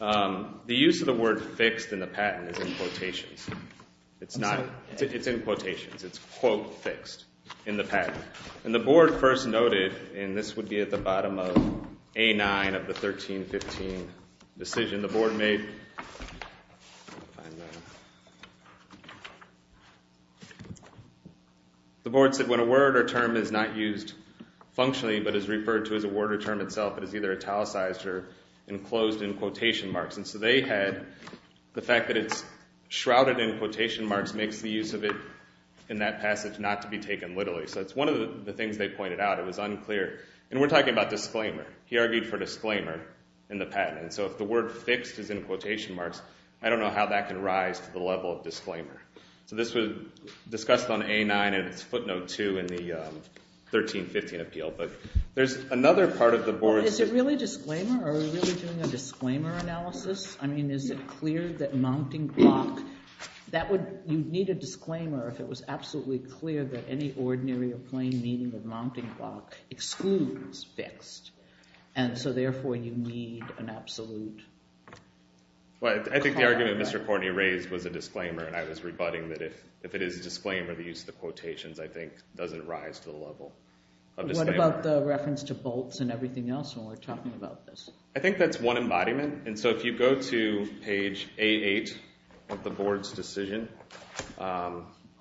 The use of the word fixed in the patent is in quotations. It's not, it's in quotations. It's quote fixed in the patent, and the board first noted, and this would be at the bottom of A9 of the 1315 decision, the board made, the board said, when a word or term is not used functionally, but is referred to as a word or term itself, it is either italicized or enclosed in quotation marks. And so they had the fact that it's shrouded in quotation marks makes the use of it in that passage not to be taken literally. So it's one of the things they pointed out. It was unclear. And we're talking about disclaimer. He argued for disclaimer in the patent. And so if the word fixed is in quotation marks, I don't know how that can rise to the level of disclaimer. So this was discussed on A9 and it's footnote two in the 1315 appeal, but there's another part of the board- Is it really disclaimer? Are we really doing a disclaimer analysis? I mean, is it clear that mounting block, that would, you'd need a disclaimer if it was absolutely clear that any ordinary or plain meaning of mounting block excludes fixed. And so therefore you need an absolute- Well, I think the argument Mr. Courtney raised was a disclaimer and I was rebutting that if it is a disclaimer, the use of the quotations, I think, doesn't rise to the level of disclaimer. What about the reference to bolts and everything else when we're talking about this? I think that's one embodiment. And so if you go to page A8 of the board's decision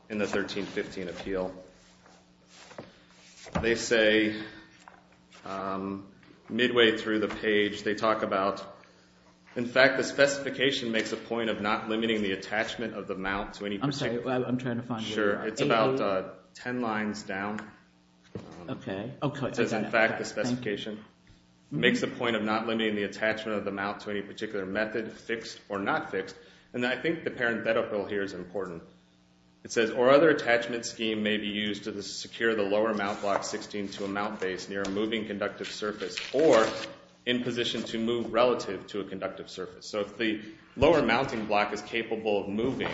in the 1315 appeal, they say midway through the page, they talk about, in fact, the specification makes a point of not limiting the attachment of the mount to any particular- I'm sorry, I'm trying to find where you are. Sure, it's about 10 lines down. Okay. It says, in fact, the specification makes a point of not limiting the attachment of the mount to any particular method, fixed or not fixed. And I think the parenthetical here is important. It says, or other attachment scheme may be used to secure the lower mount block 16 to a mount base near a moving conductive surface or in position to move relative to a conductive surface. So if the lower mounting block is capable of moving,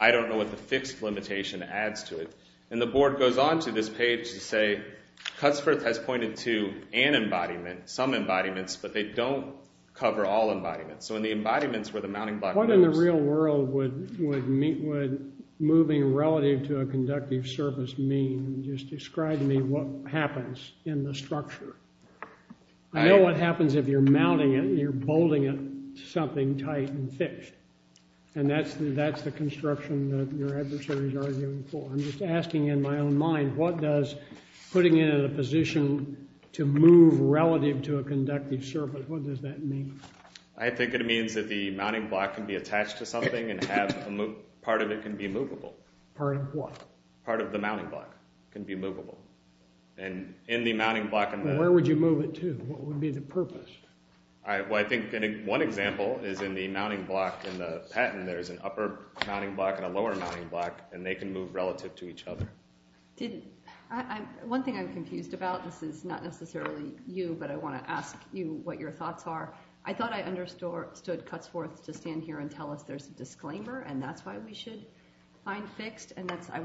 I don't know what the fixed limitation adds to it. And the board goes on to this page to say, Cutsforth has pointed to an embodiment, some embodiments, but they don't cover all embodiments. So in the embodiments where the mounting block- What in the real world would moving relative to a conductive surface mean? Just describe to me what happens in the structure. I know what happens if you're mounting it and you're bolting it to something tight and fixed. And that's the construction that your adversary is arguing for. I'm just asking in my own mind, what does putting it in a position to move relative to a conductive surface, what does that mean? I think it means that the mounting block can be attached to something and part of it can be movable. Part of what? Part of the mounting block can be movable. And in the mounting block- Where would you move it to? What would be the purpose? Well, I think one example is in the mounting block in the patent, there's an upper mounting block and a lower mounting block, and they can move relative to each other. One thing I'm confused about, this is not necessarily you, but I want to ask you what your thoughts are. I thought I understood Cutsforth to stand here and tell us there's a disclaimer and that's why we should find fixed, and I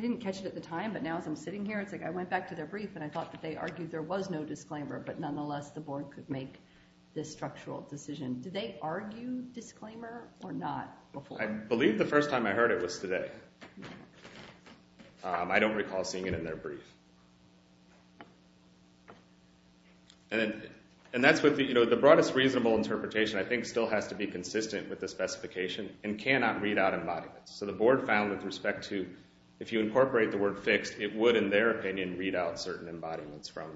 didn't catch it at the time, but now as I'm sitting here, it's like I went back to their brief and I thought that they argued there was no disclaimer, but nonetheless, the board could make this structural decision. Did they argue disclaimer or not before? I believe the first time I heard it was today. I don't recall seeing it in their brief. And that's what the broadest reasonable interpretation I think still has to be consistent with the specification and cannot read out embodiments. So the board found with respect to, if you incorporate the word fixed, it would, in their opinion, read out certain embodiments from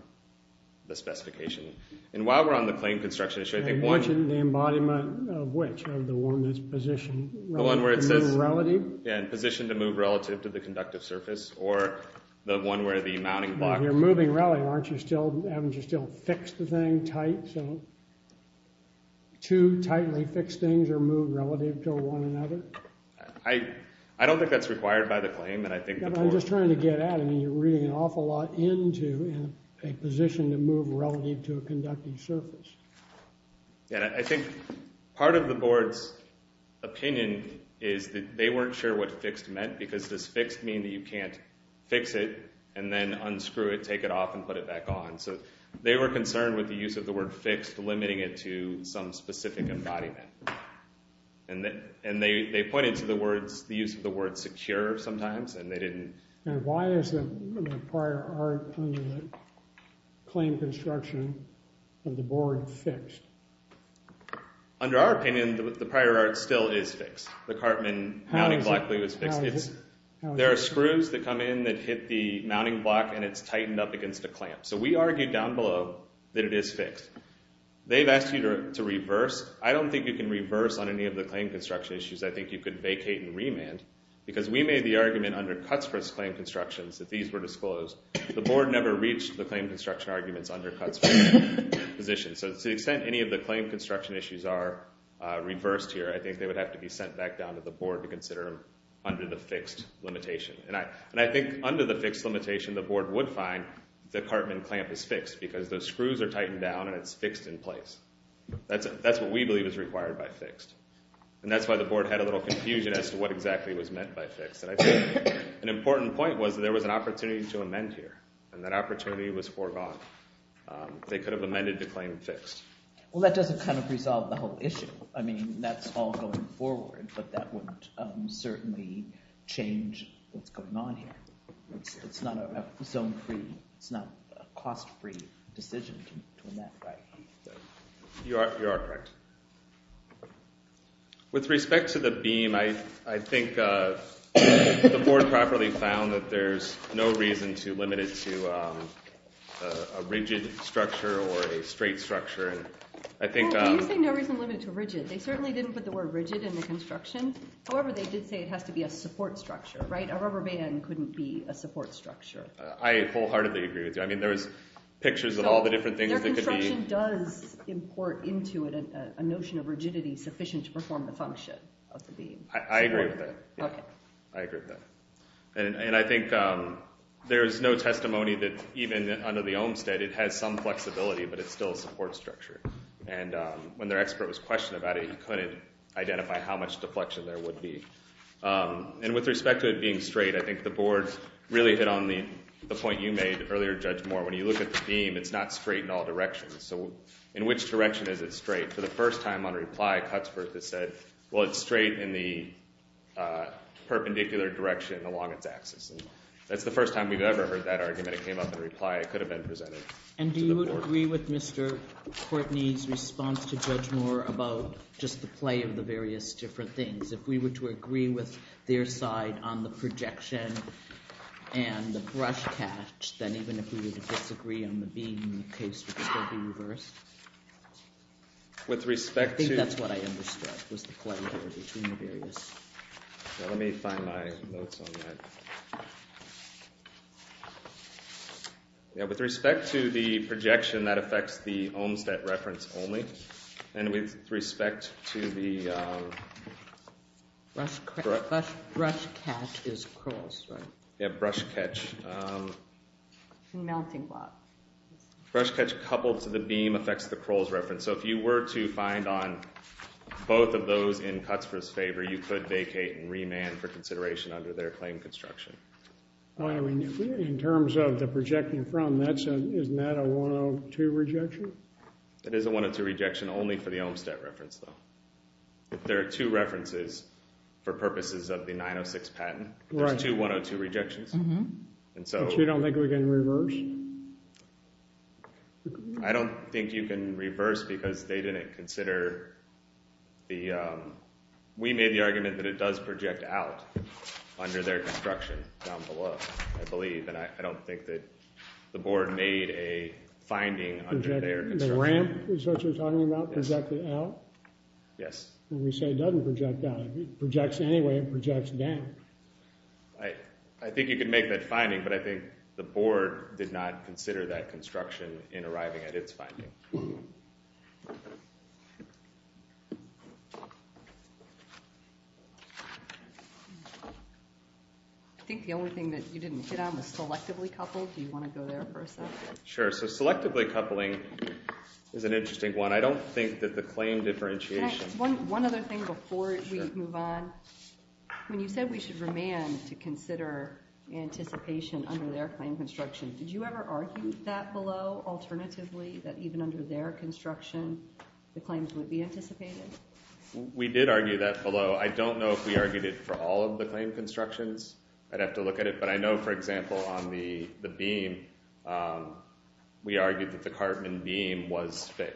the specification. And while we're on the claim construction issue, I think one- I'm mentioning the embodiment of which, of the one that's positioned relative to the new relative? Yeah, positioned to move relative to the conductive surface, or the one where the mounting block- You're moving relative, aren't you still, haven't you still fixed the thing tight? So two tightly fixed things are moved relative to one another? I don't think that's required by the claim, and I think the board- I'm just trying to get at it. I mean, you're reading an awful lot into a position to move relative to a conductive surface. Yeah, I think part of the board's opinion is that they weren't sure what fixed meant because does fixed mean that you can't fix it and then unscrew it, take it off, and put it back on? So they were concerned with the use of the word fixed, limiting it to some specific embodiment. And they pointed to the words, the use of the word secure sometimes, and they didn't- And why is the prior art under the claim construction of the board fixed? Under our opinion, the prior art still is fixed. The Cartman mounting block was fixed. There are screws that come in that hit the mounting block and it's tightened up against a clamp. So we argued down below that it is fixed. They've asked you to reverse. I don't think you can reverse on any of the claim construction issues. I think you could vacate and remand because we made the argument under Cuts for this claim constructions that these were disclosed. The board never reached the claim construction arguments under Cuts for this position. So to the extent any of the claim construction issues are reversed here, I think they would have to be sent back down to the board to consider them under the fixed limitation. And I think under the fixed limitation, the board would find the Cartman clamp is fixed because those screws are tightened down and it's fixed in place. That's what we believe is required by fixed. And that's why the board had a little confusion as to what exactly was meant by fixed. And I think an important point was that there was an opportunity to amend here. And that opportunity was foregone. They could have amended the claim fixed. Well, that doesn't kind of resolve the whole issue. I mean, that's all going forward, but that wouldn't certainly change what's going on here. It's not a zone-free, it's not a cost-free decision to amend, right? You are correct. With respect to the beam, I think the board properly found that there's no reason to limit it to a rigid structure or a straight structure. I think- Well, when you say no reason to limit it to rigid, they certainly didn't put the word rigid in the construction. However, they did say it has to be a support structure, right? A rubber band couldn't be a support structure. I wholeheartedly agree with you. I mean, there was pictures of all the different things that could be- Their construction does import into it a notion of rigidity sufficient to perform the function of the beam. I agree with that. I agree with that. And I think there's no testimony that even under the Olmstead, it has some flexibility, but it's still a support structure. And when their expert was questioned about it, I couldn't identify how much deflection there would be. And with respect to it being straight, I think the board really hit on the point you made earlier, Judge Moore. When you look at the beam, it's not straight in all directions. So in which direction is it straight? For the first time on reply, Cutsworth has said, well, it's straight in the perpendicular direction along its axis. That's the first time we've ever heard that argument. It came up in reply. It could have been presented to the board. And do you agree with Mr. Courtney's response to Judge Moore about just the play of the various different things? If we were to agree with their side on the projection and the brush catch, then even if we would disagree on the beam, the case would still be reversed. With respect to- I think that's what I understood was the play there between the various. Let me find my notes on that. Yeah, with respect to the projection that affects the Olmstead reference only, and with respect to the- Brush catch is Crowell's, right? Yeah, brush catch. The mounting block. Brush catch coupled to the beam affects the Crowell's reference. So if you were to find on both of those in Cutsworth's favor, you could vacate and remand for consideration under their claim construction. I mean, in terms of the projecting from, isn't that a 102 rejection? It is a 102 rejection only for the Olmstead reference, though. If there are two references for purposes of the 906 patent, there's two 102 rejections. And so- But you don't think we can reverse? I don't think you can reverse because they didn't consider the... We made the argument that it does project out under their construction down below, I believe. And I don't think that the board made a finding under their construction. The ramp is what you're talking about, projected out? Yes. When we say it doesn't project out, it projects anyway and projects down. I think you can make that finding, but I think the board did not consider that construction in arriving at its finding. I think the only thing that you didn't hit on was selectively coupled. Do you want to go there for a second? Sure. So selectively coupling is an interesting one. I don't think that the claim differentiation- One other thing before we move on. When you said we should remand to consider anticipation under their claim construction, did you ever argue that below, alternatively, that even under their construction, the claims would be anticipated? We did argue that below. I don't know if we argued it for all of the claim constructions. I'd have to look at it. But I know, for example, on the beam, we argued that the Cartman beam was- If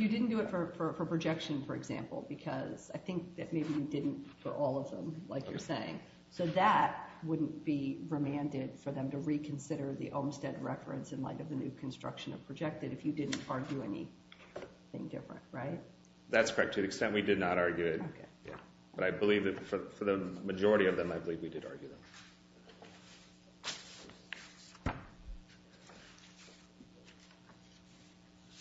you didn't do it for projection, for example, because I think that maybe you didn't for all of them, like you're saying. So that wouldn't be remanded for them to reconsider the Olmstead reference in light of the new construction of projected if you didn't argue anything different, right? That's correct. To the extent we did not argue it. But I believe that for the majority of them, I believe we did argue them. Thank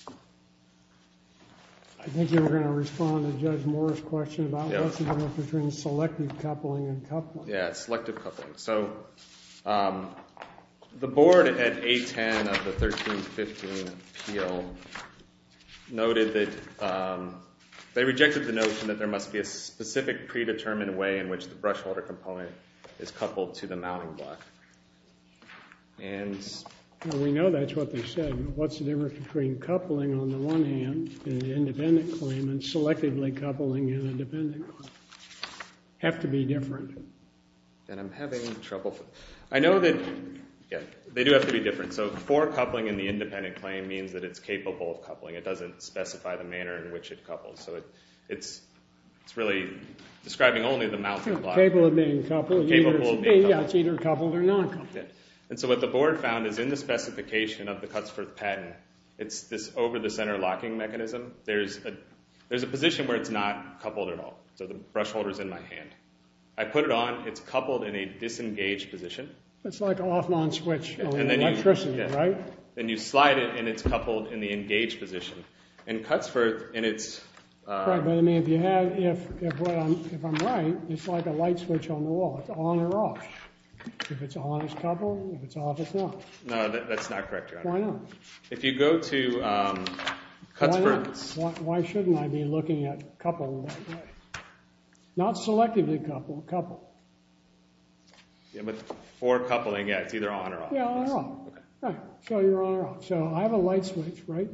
you. I think you were gonna respond to Judge Moore's question about what's the difference between selective coupling and coupling. Yeah, selective coupling. So the board at 810 of the 1315 appeal noted that they rejected the notion that there must be a specific predetermined way in which the brush holder component is coupled to the mounting block. And- We know that's what they said. What's the difference between coupling on the one hand in an independent claim and selectively coupling in an independent claim? Have to be different. Then I'm having trouble. I know that, yeah, they do have to be different. So for coupling in the independent claim means that it's capable of coupling. It doesn't specify the manner in which it couples. So it's really describing only the mounting block. Capable of being coupled. Capable of being coupled. Yeah, it's either coupled or non-coupled. And so what the board found is in the specification of the Cutts-Firth patent, it's this over-the-center locking mechanism. There's a position where it's not coupled at all. So the brush holder's in my hand. I put it on, it's coupled in a disengaged position. It's like an off-non-switch electricity, right? Then you slide it and it's coupled in the engaged position. In Cutts-Firth, and it's- Right, but I mean, if you have, if I'm right, it's like a light switch on the wall. It's on or off. If it's on, it's coupled. If it's off, it's not. No, that's not correct, Your Honor. Why not? If you go to Cutts-Firth- Why not? Why shouldn't I be looking at coupled light switch? Not selectively coupled, coupled. Yeah, but for coupling, yeah, it's either on or off. Yeah, on or off. Right, so you're on or off. So I have a light switch, right?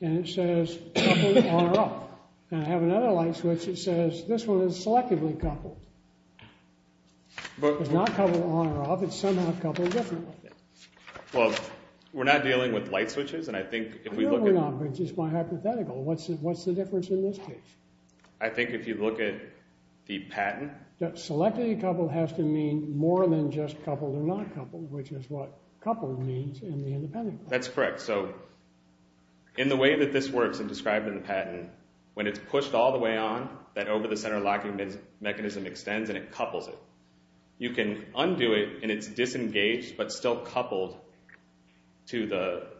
And it says coupled, on or off. And I have another light switch that says this one is selectively coupled. It's not coupled on or off. It's somehow coupled differently. Well, we're not dealing with light switches, and I think if we look at- No, we're not, but it's just my hypothetical. What's the difference in this case? I think if you look at the patent- Selectively coupled has to mean more than just coupled or not coupled, which is what coupled means in the independent- That's correct. So in the way that this works and described in the patent, when it's pushed all the way on, that over-the-center locking mechanism extends and it couples it. You can undo it, and it's disengaged, but still coupled to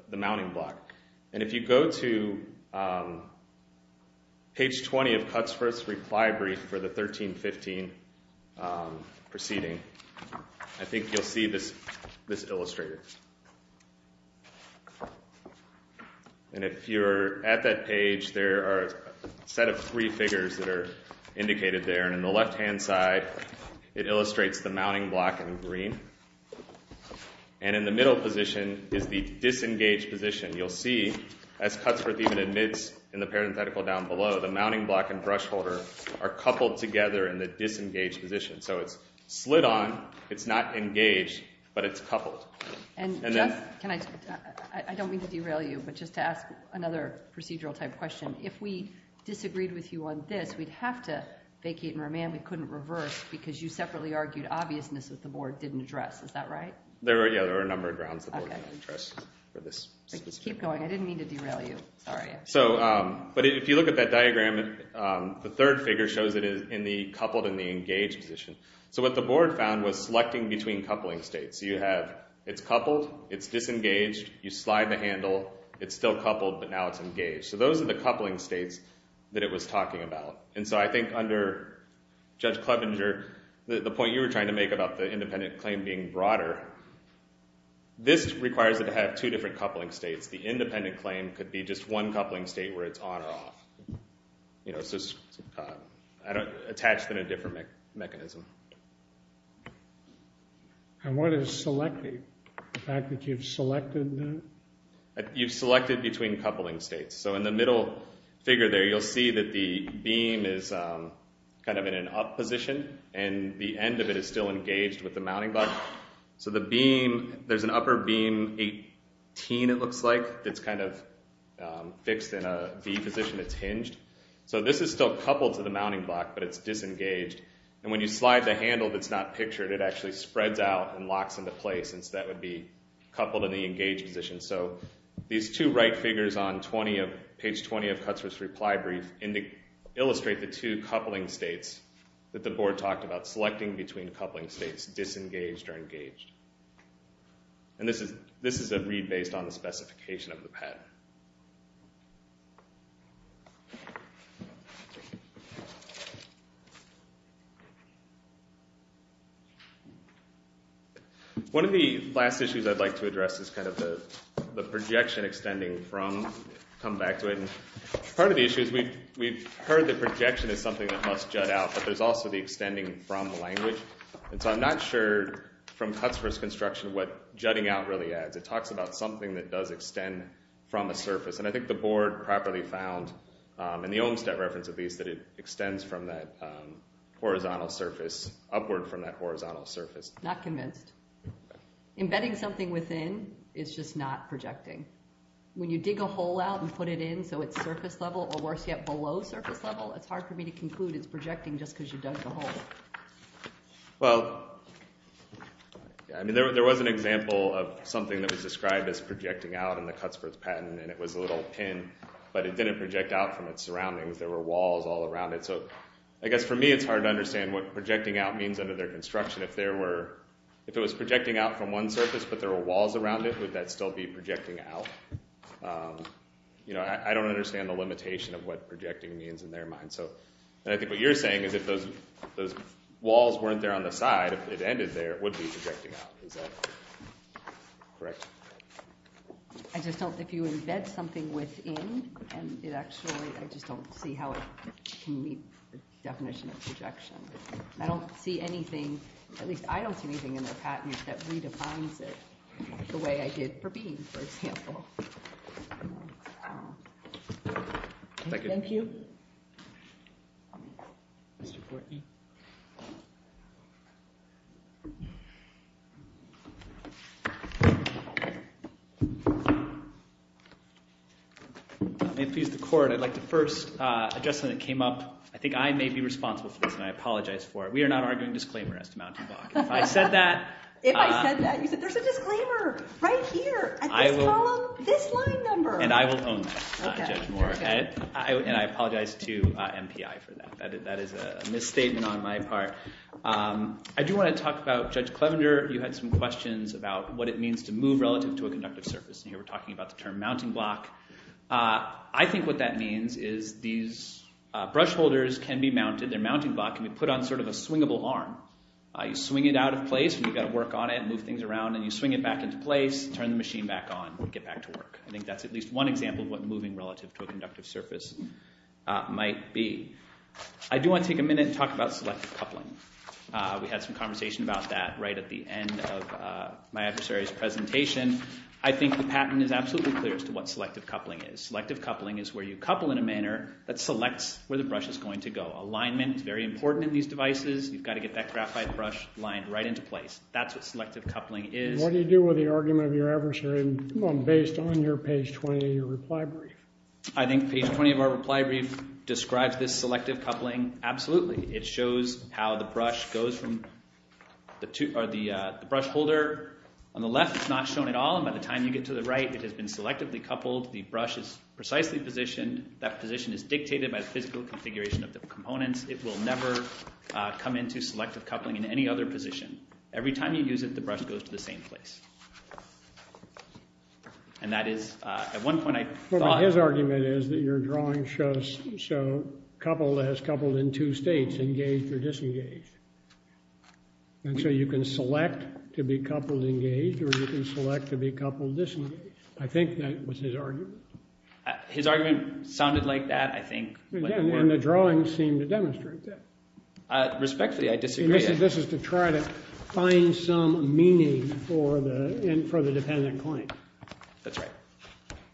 the mounting block. And if you go to page 20 of Cutt's first reply brief for the 1315 proceeding, I think you'll see this illustrator. And if you're at that page, there are a set of three figures that are indicated there. And in the left-hand side, it illustrates the mounting block in green. And in the middle position is the disengaged position. You'll see, as Cuttsworth even admits in the parenthetical down below, the mounting block and brush holder are coupled together in the disengaged position. So it's slid on, it's not engaged, but it's coupled. And then- Can I, I don't mean to derail you, but just to ask another procedural-type question. If we disagreed with you on this, we'd have to vacate and remand. We couldn't reverse, because you separately argued obviousness that the board didn't address. Is that right? Yeah, there are a number of grounds the board didn't address for this specificity. Keep going, I didn't mean to derail you, sorry. But if you look at that diagram, the third figure shows it is coupled in the engaged position. So what the board found was selecting between coupling states. So you have, it's coupled, it's disengaged, you slide the handle, it's still coupled, but now it's engaged. So those are the coupling states that it was talking about. And so I think under Judge Klebinger, the point you were trying to make about the independent claim being broader, this requires it to have two different coupling states. The independent claim could be just one coupling state where it's on or off. So it's attached in a different mechanism. And what is selecting? The fact that you've selected that? You've selected between coupling states. So in the middle figure there, you'll see that the beam is kind of in an up position and the end of it is still engaged with the mounting block. So the beam, there's an upper beam 18, it looks like, that's kind of fixed in a V position, it's hinged. So this is still coupled to the mounting block, but it's disengaged. And when you slide the handle that's not pictured, it actually spreads out and locks into place and so that would be coupled in the engaged position. So these two right figures on 20 of, page 20 of Cutthroat's reply brief illustrate the two coupling states that the board talked about, selecting between coupling states, disengaged or engaged. And this is a read based on the specification of the PET. One of the last issues I'd like to address is kind of the projection extending from, come back to it. Part of the issue is we've heard that projection is something that must jut out, but there's also the extending from the language. And so I'm not sure from Cutthroat's construction what jutting out really adds. It talks about something that does extend from a surface. And I think the board properly found, in the Olmstead reference at least, that it extends from that horizontal surface, upward from that horizontal surface. Not convinced. Embedding something within is just not projecting. When you dig a hole out and put it in so it's surface level, or worse yet, below surface level, it's hard for me to conclude it's projecting just because you dug the hole. Well, I mean there was an example of something that was described as projecting out in the Cutthroat's patent and it was a little pin, but it didn't project out from its surroundings. There were walls all around it. So I guess for me it's hard to understand what projecting out means under their construction if there were, if it was projecting out from one surface but there were walls around it, would that still be projecting out? You know, I don't understand the limitation of what projecting means in their mind. So, and I think what you're saying is if those walls weren't there on the side, if it ended there, it would be projecting out. Is that correct? I just don't, if you embed something within and it actually, I just don't see how it can meet the definition of projection. I don't see anything, at least I don't see anything in their patent that redefines it the way I did for Bean, for example. Thank you. Mr. Courtney. If he's the court, I'd like to first, a judgment that came up, I think I may be responsible for this and I apologize for it. We are not arguing disclaimer as to mounting block. If I said that. If I said that, you said there's a disclaimer right here at this column, this line number. And I will own that, Judge Moore. And I apologize to MPI for that. That is a misstatement on my part. I do want to talk about Judge Clevender, you had some questions about what it means to move relative to a conductive surface. And here we're talking about the term mounting block. I think what that means is these brush holders can be mounted, their mounting block can be put on sort of a swingable arm. You swing it out of place and you've got to work on it and move things around and you swing it back into place, turn the machine back on, get back to work. I think that's at least one example of what moving relative to a conductive surface might be. I do want to take a minute and talk about selective coupling. We had some conversation about that right at the end of my adversary's presentation. I think the patent is absolutely clear as to what selective coupling is. Selective coupling is where you couple in a manner that selects where the brush is going to go. Alignment is very important in these devices. You've got to get that graphite brush lined right into place. That's what selective coupling is. What do you do with the argument of your adversary based on your page 20 of your reply brief? I think page 20 of our reply brief describes this selective coupling absolutely. It shows how the brush goes from the brush holder. On the left it's not shown at all and by the time you get to the right it has been selectively coupled. The brush is precisely positioned. That position is dictated by the physical configuration of the components. It will never come into selective coupling in any other position. Every time you use it, the brush goes to the same place. And that is, at one point I thought- His argument is that your drawing shows so couple has coupled in two states, engaged or disengaged. And so you can select to be coupled engaged or you can select to be coupled disengaged. I think that was his argument. His argument sounded like that. I think- And the drawing seemed to demonstrate that. Respectfully, I disagree. This is to try to find some meaning for the dependent point. That's right.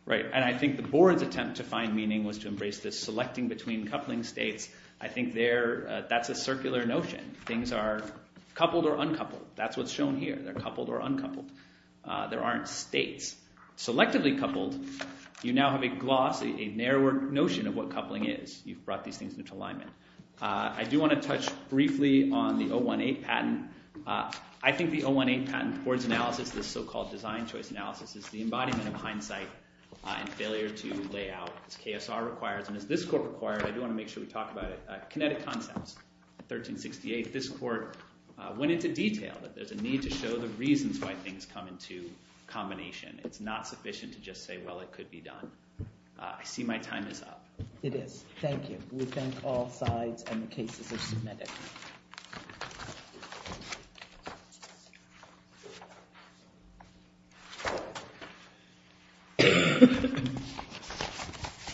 Right, and I think the board's attempt to find meaning was to embrace this selecting between coupling states. I think that's a circular notion. Things are coupled or uncoupled. That's what's shown here. They're coupled or uncoupled. There aren't states. Selectively coupled, you now have a gloss, a narrower notion of what coupling is. You've brought these things into alignment. I do want to touch briefly on the 018 patent. I think the 018 patent, the board's analysis, this so-called design choice analysis, is the embodiment of hindsight and failure to lay out. It's KSR-required, and it's this court-required. I do want to make sure we talk about it. Kinetic Concepts, 1368. This court went into detail that there's a need to show the reasons why things come into combination. It's not sufficient to just say, well, it could be done. I see my time is up. It is. Thank you. We thank all sides on the cases of kinetic.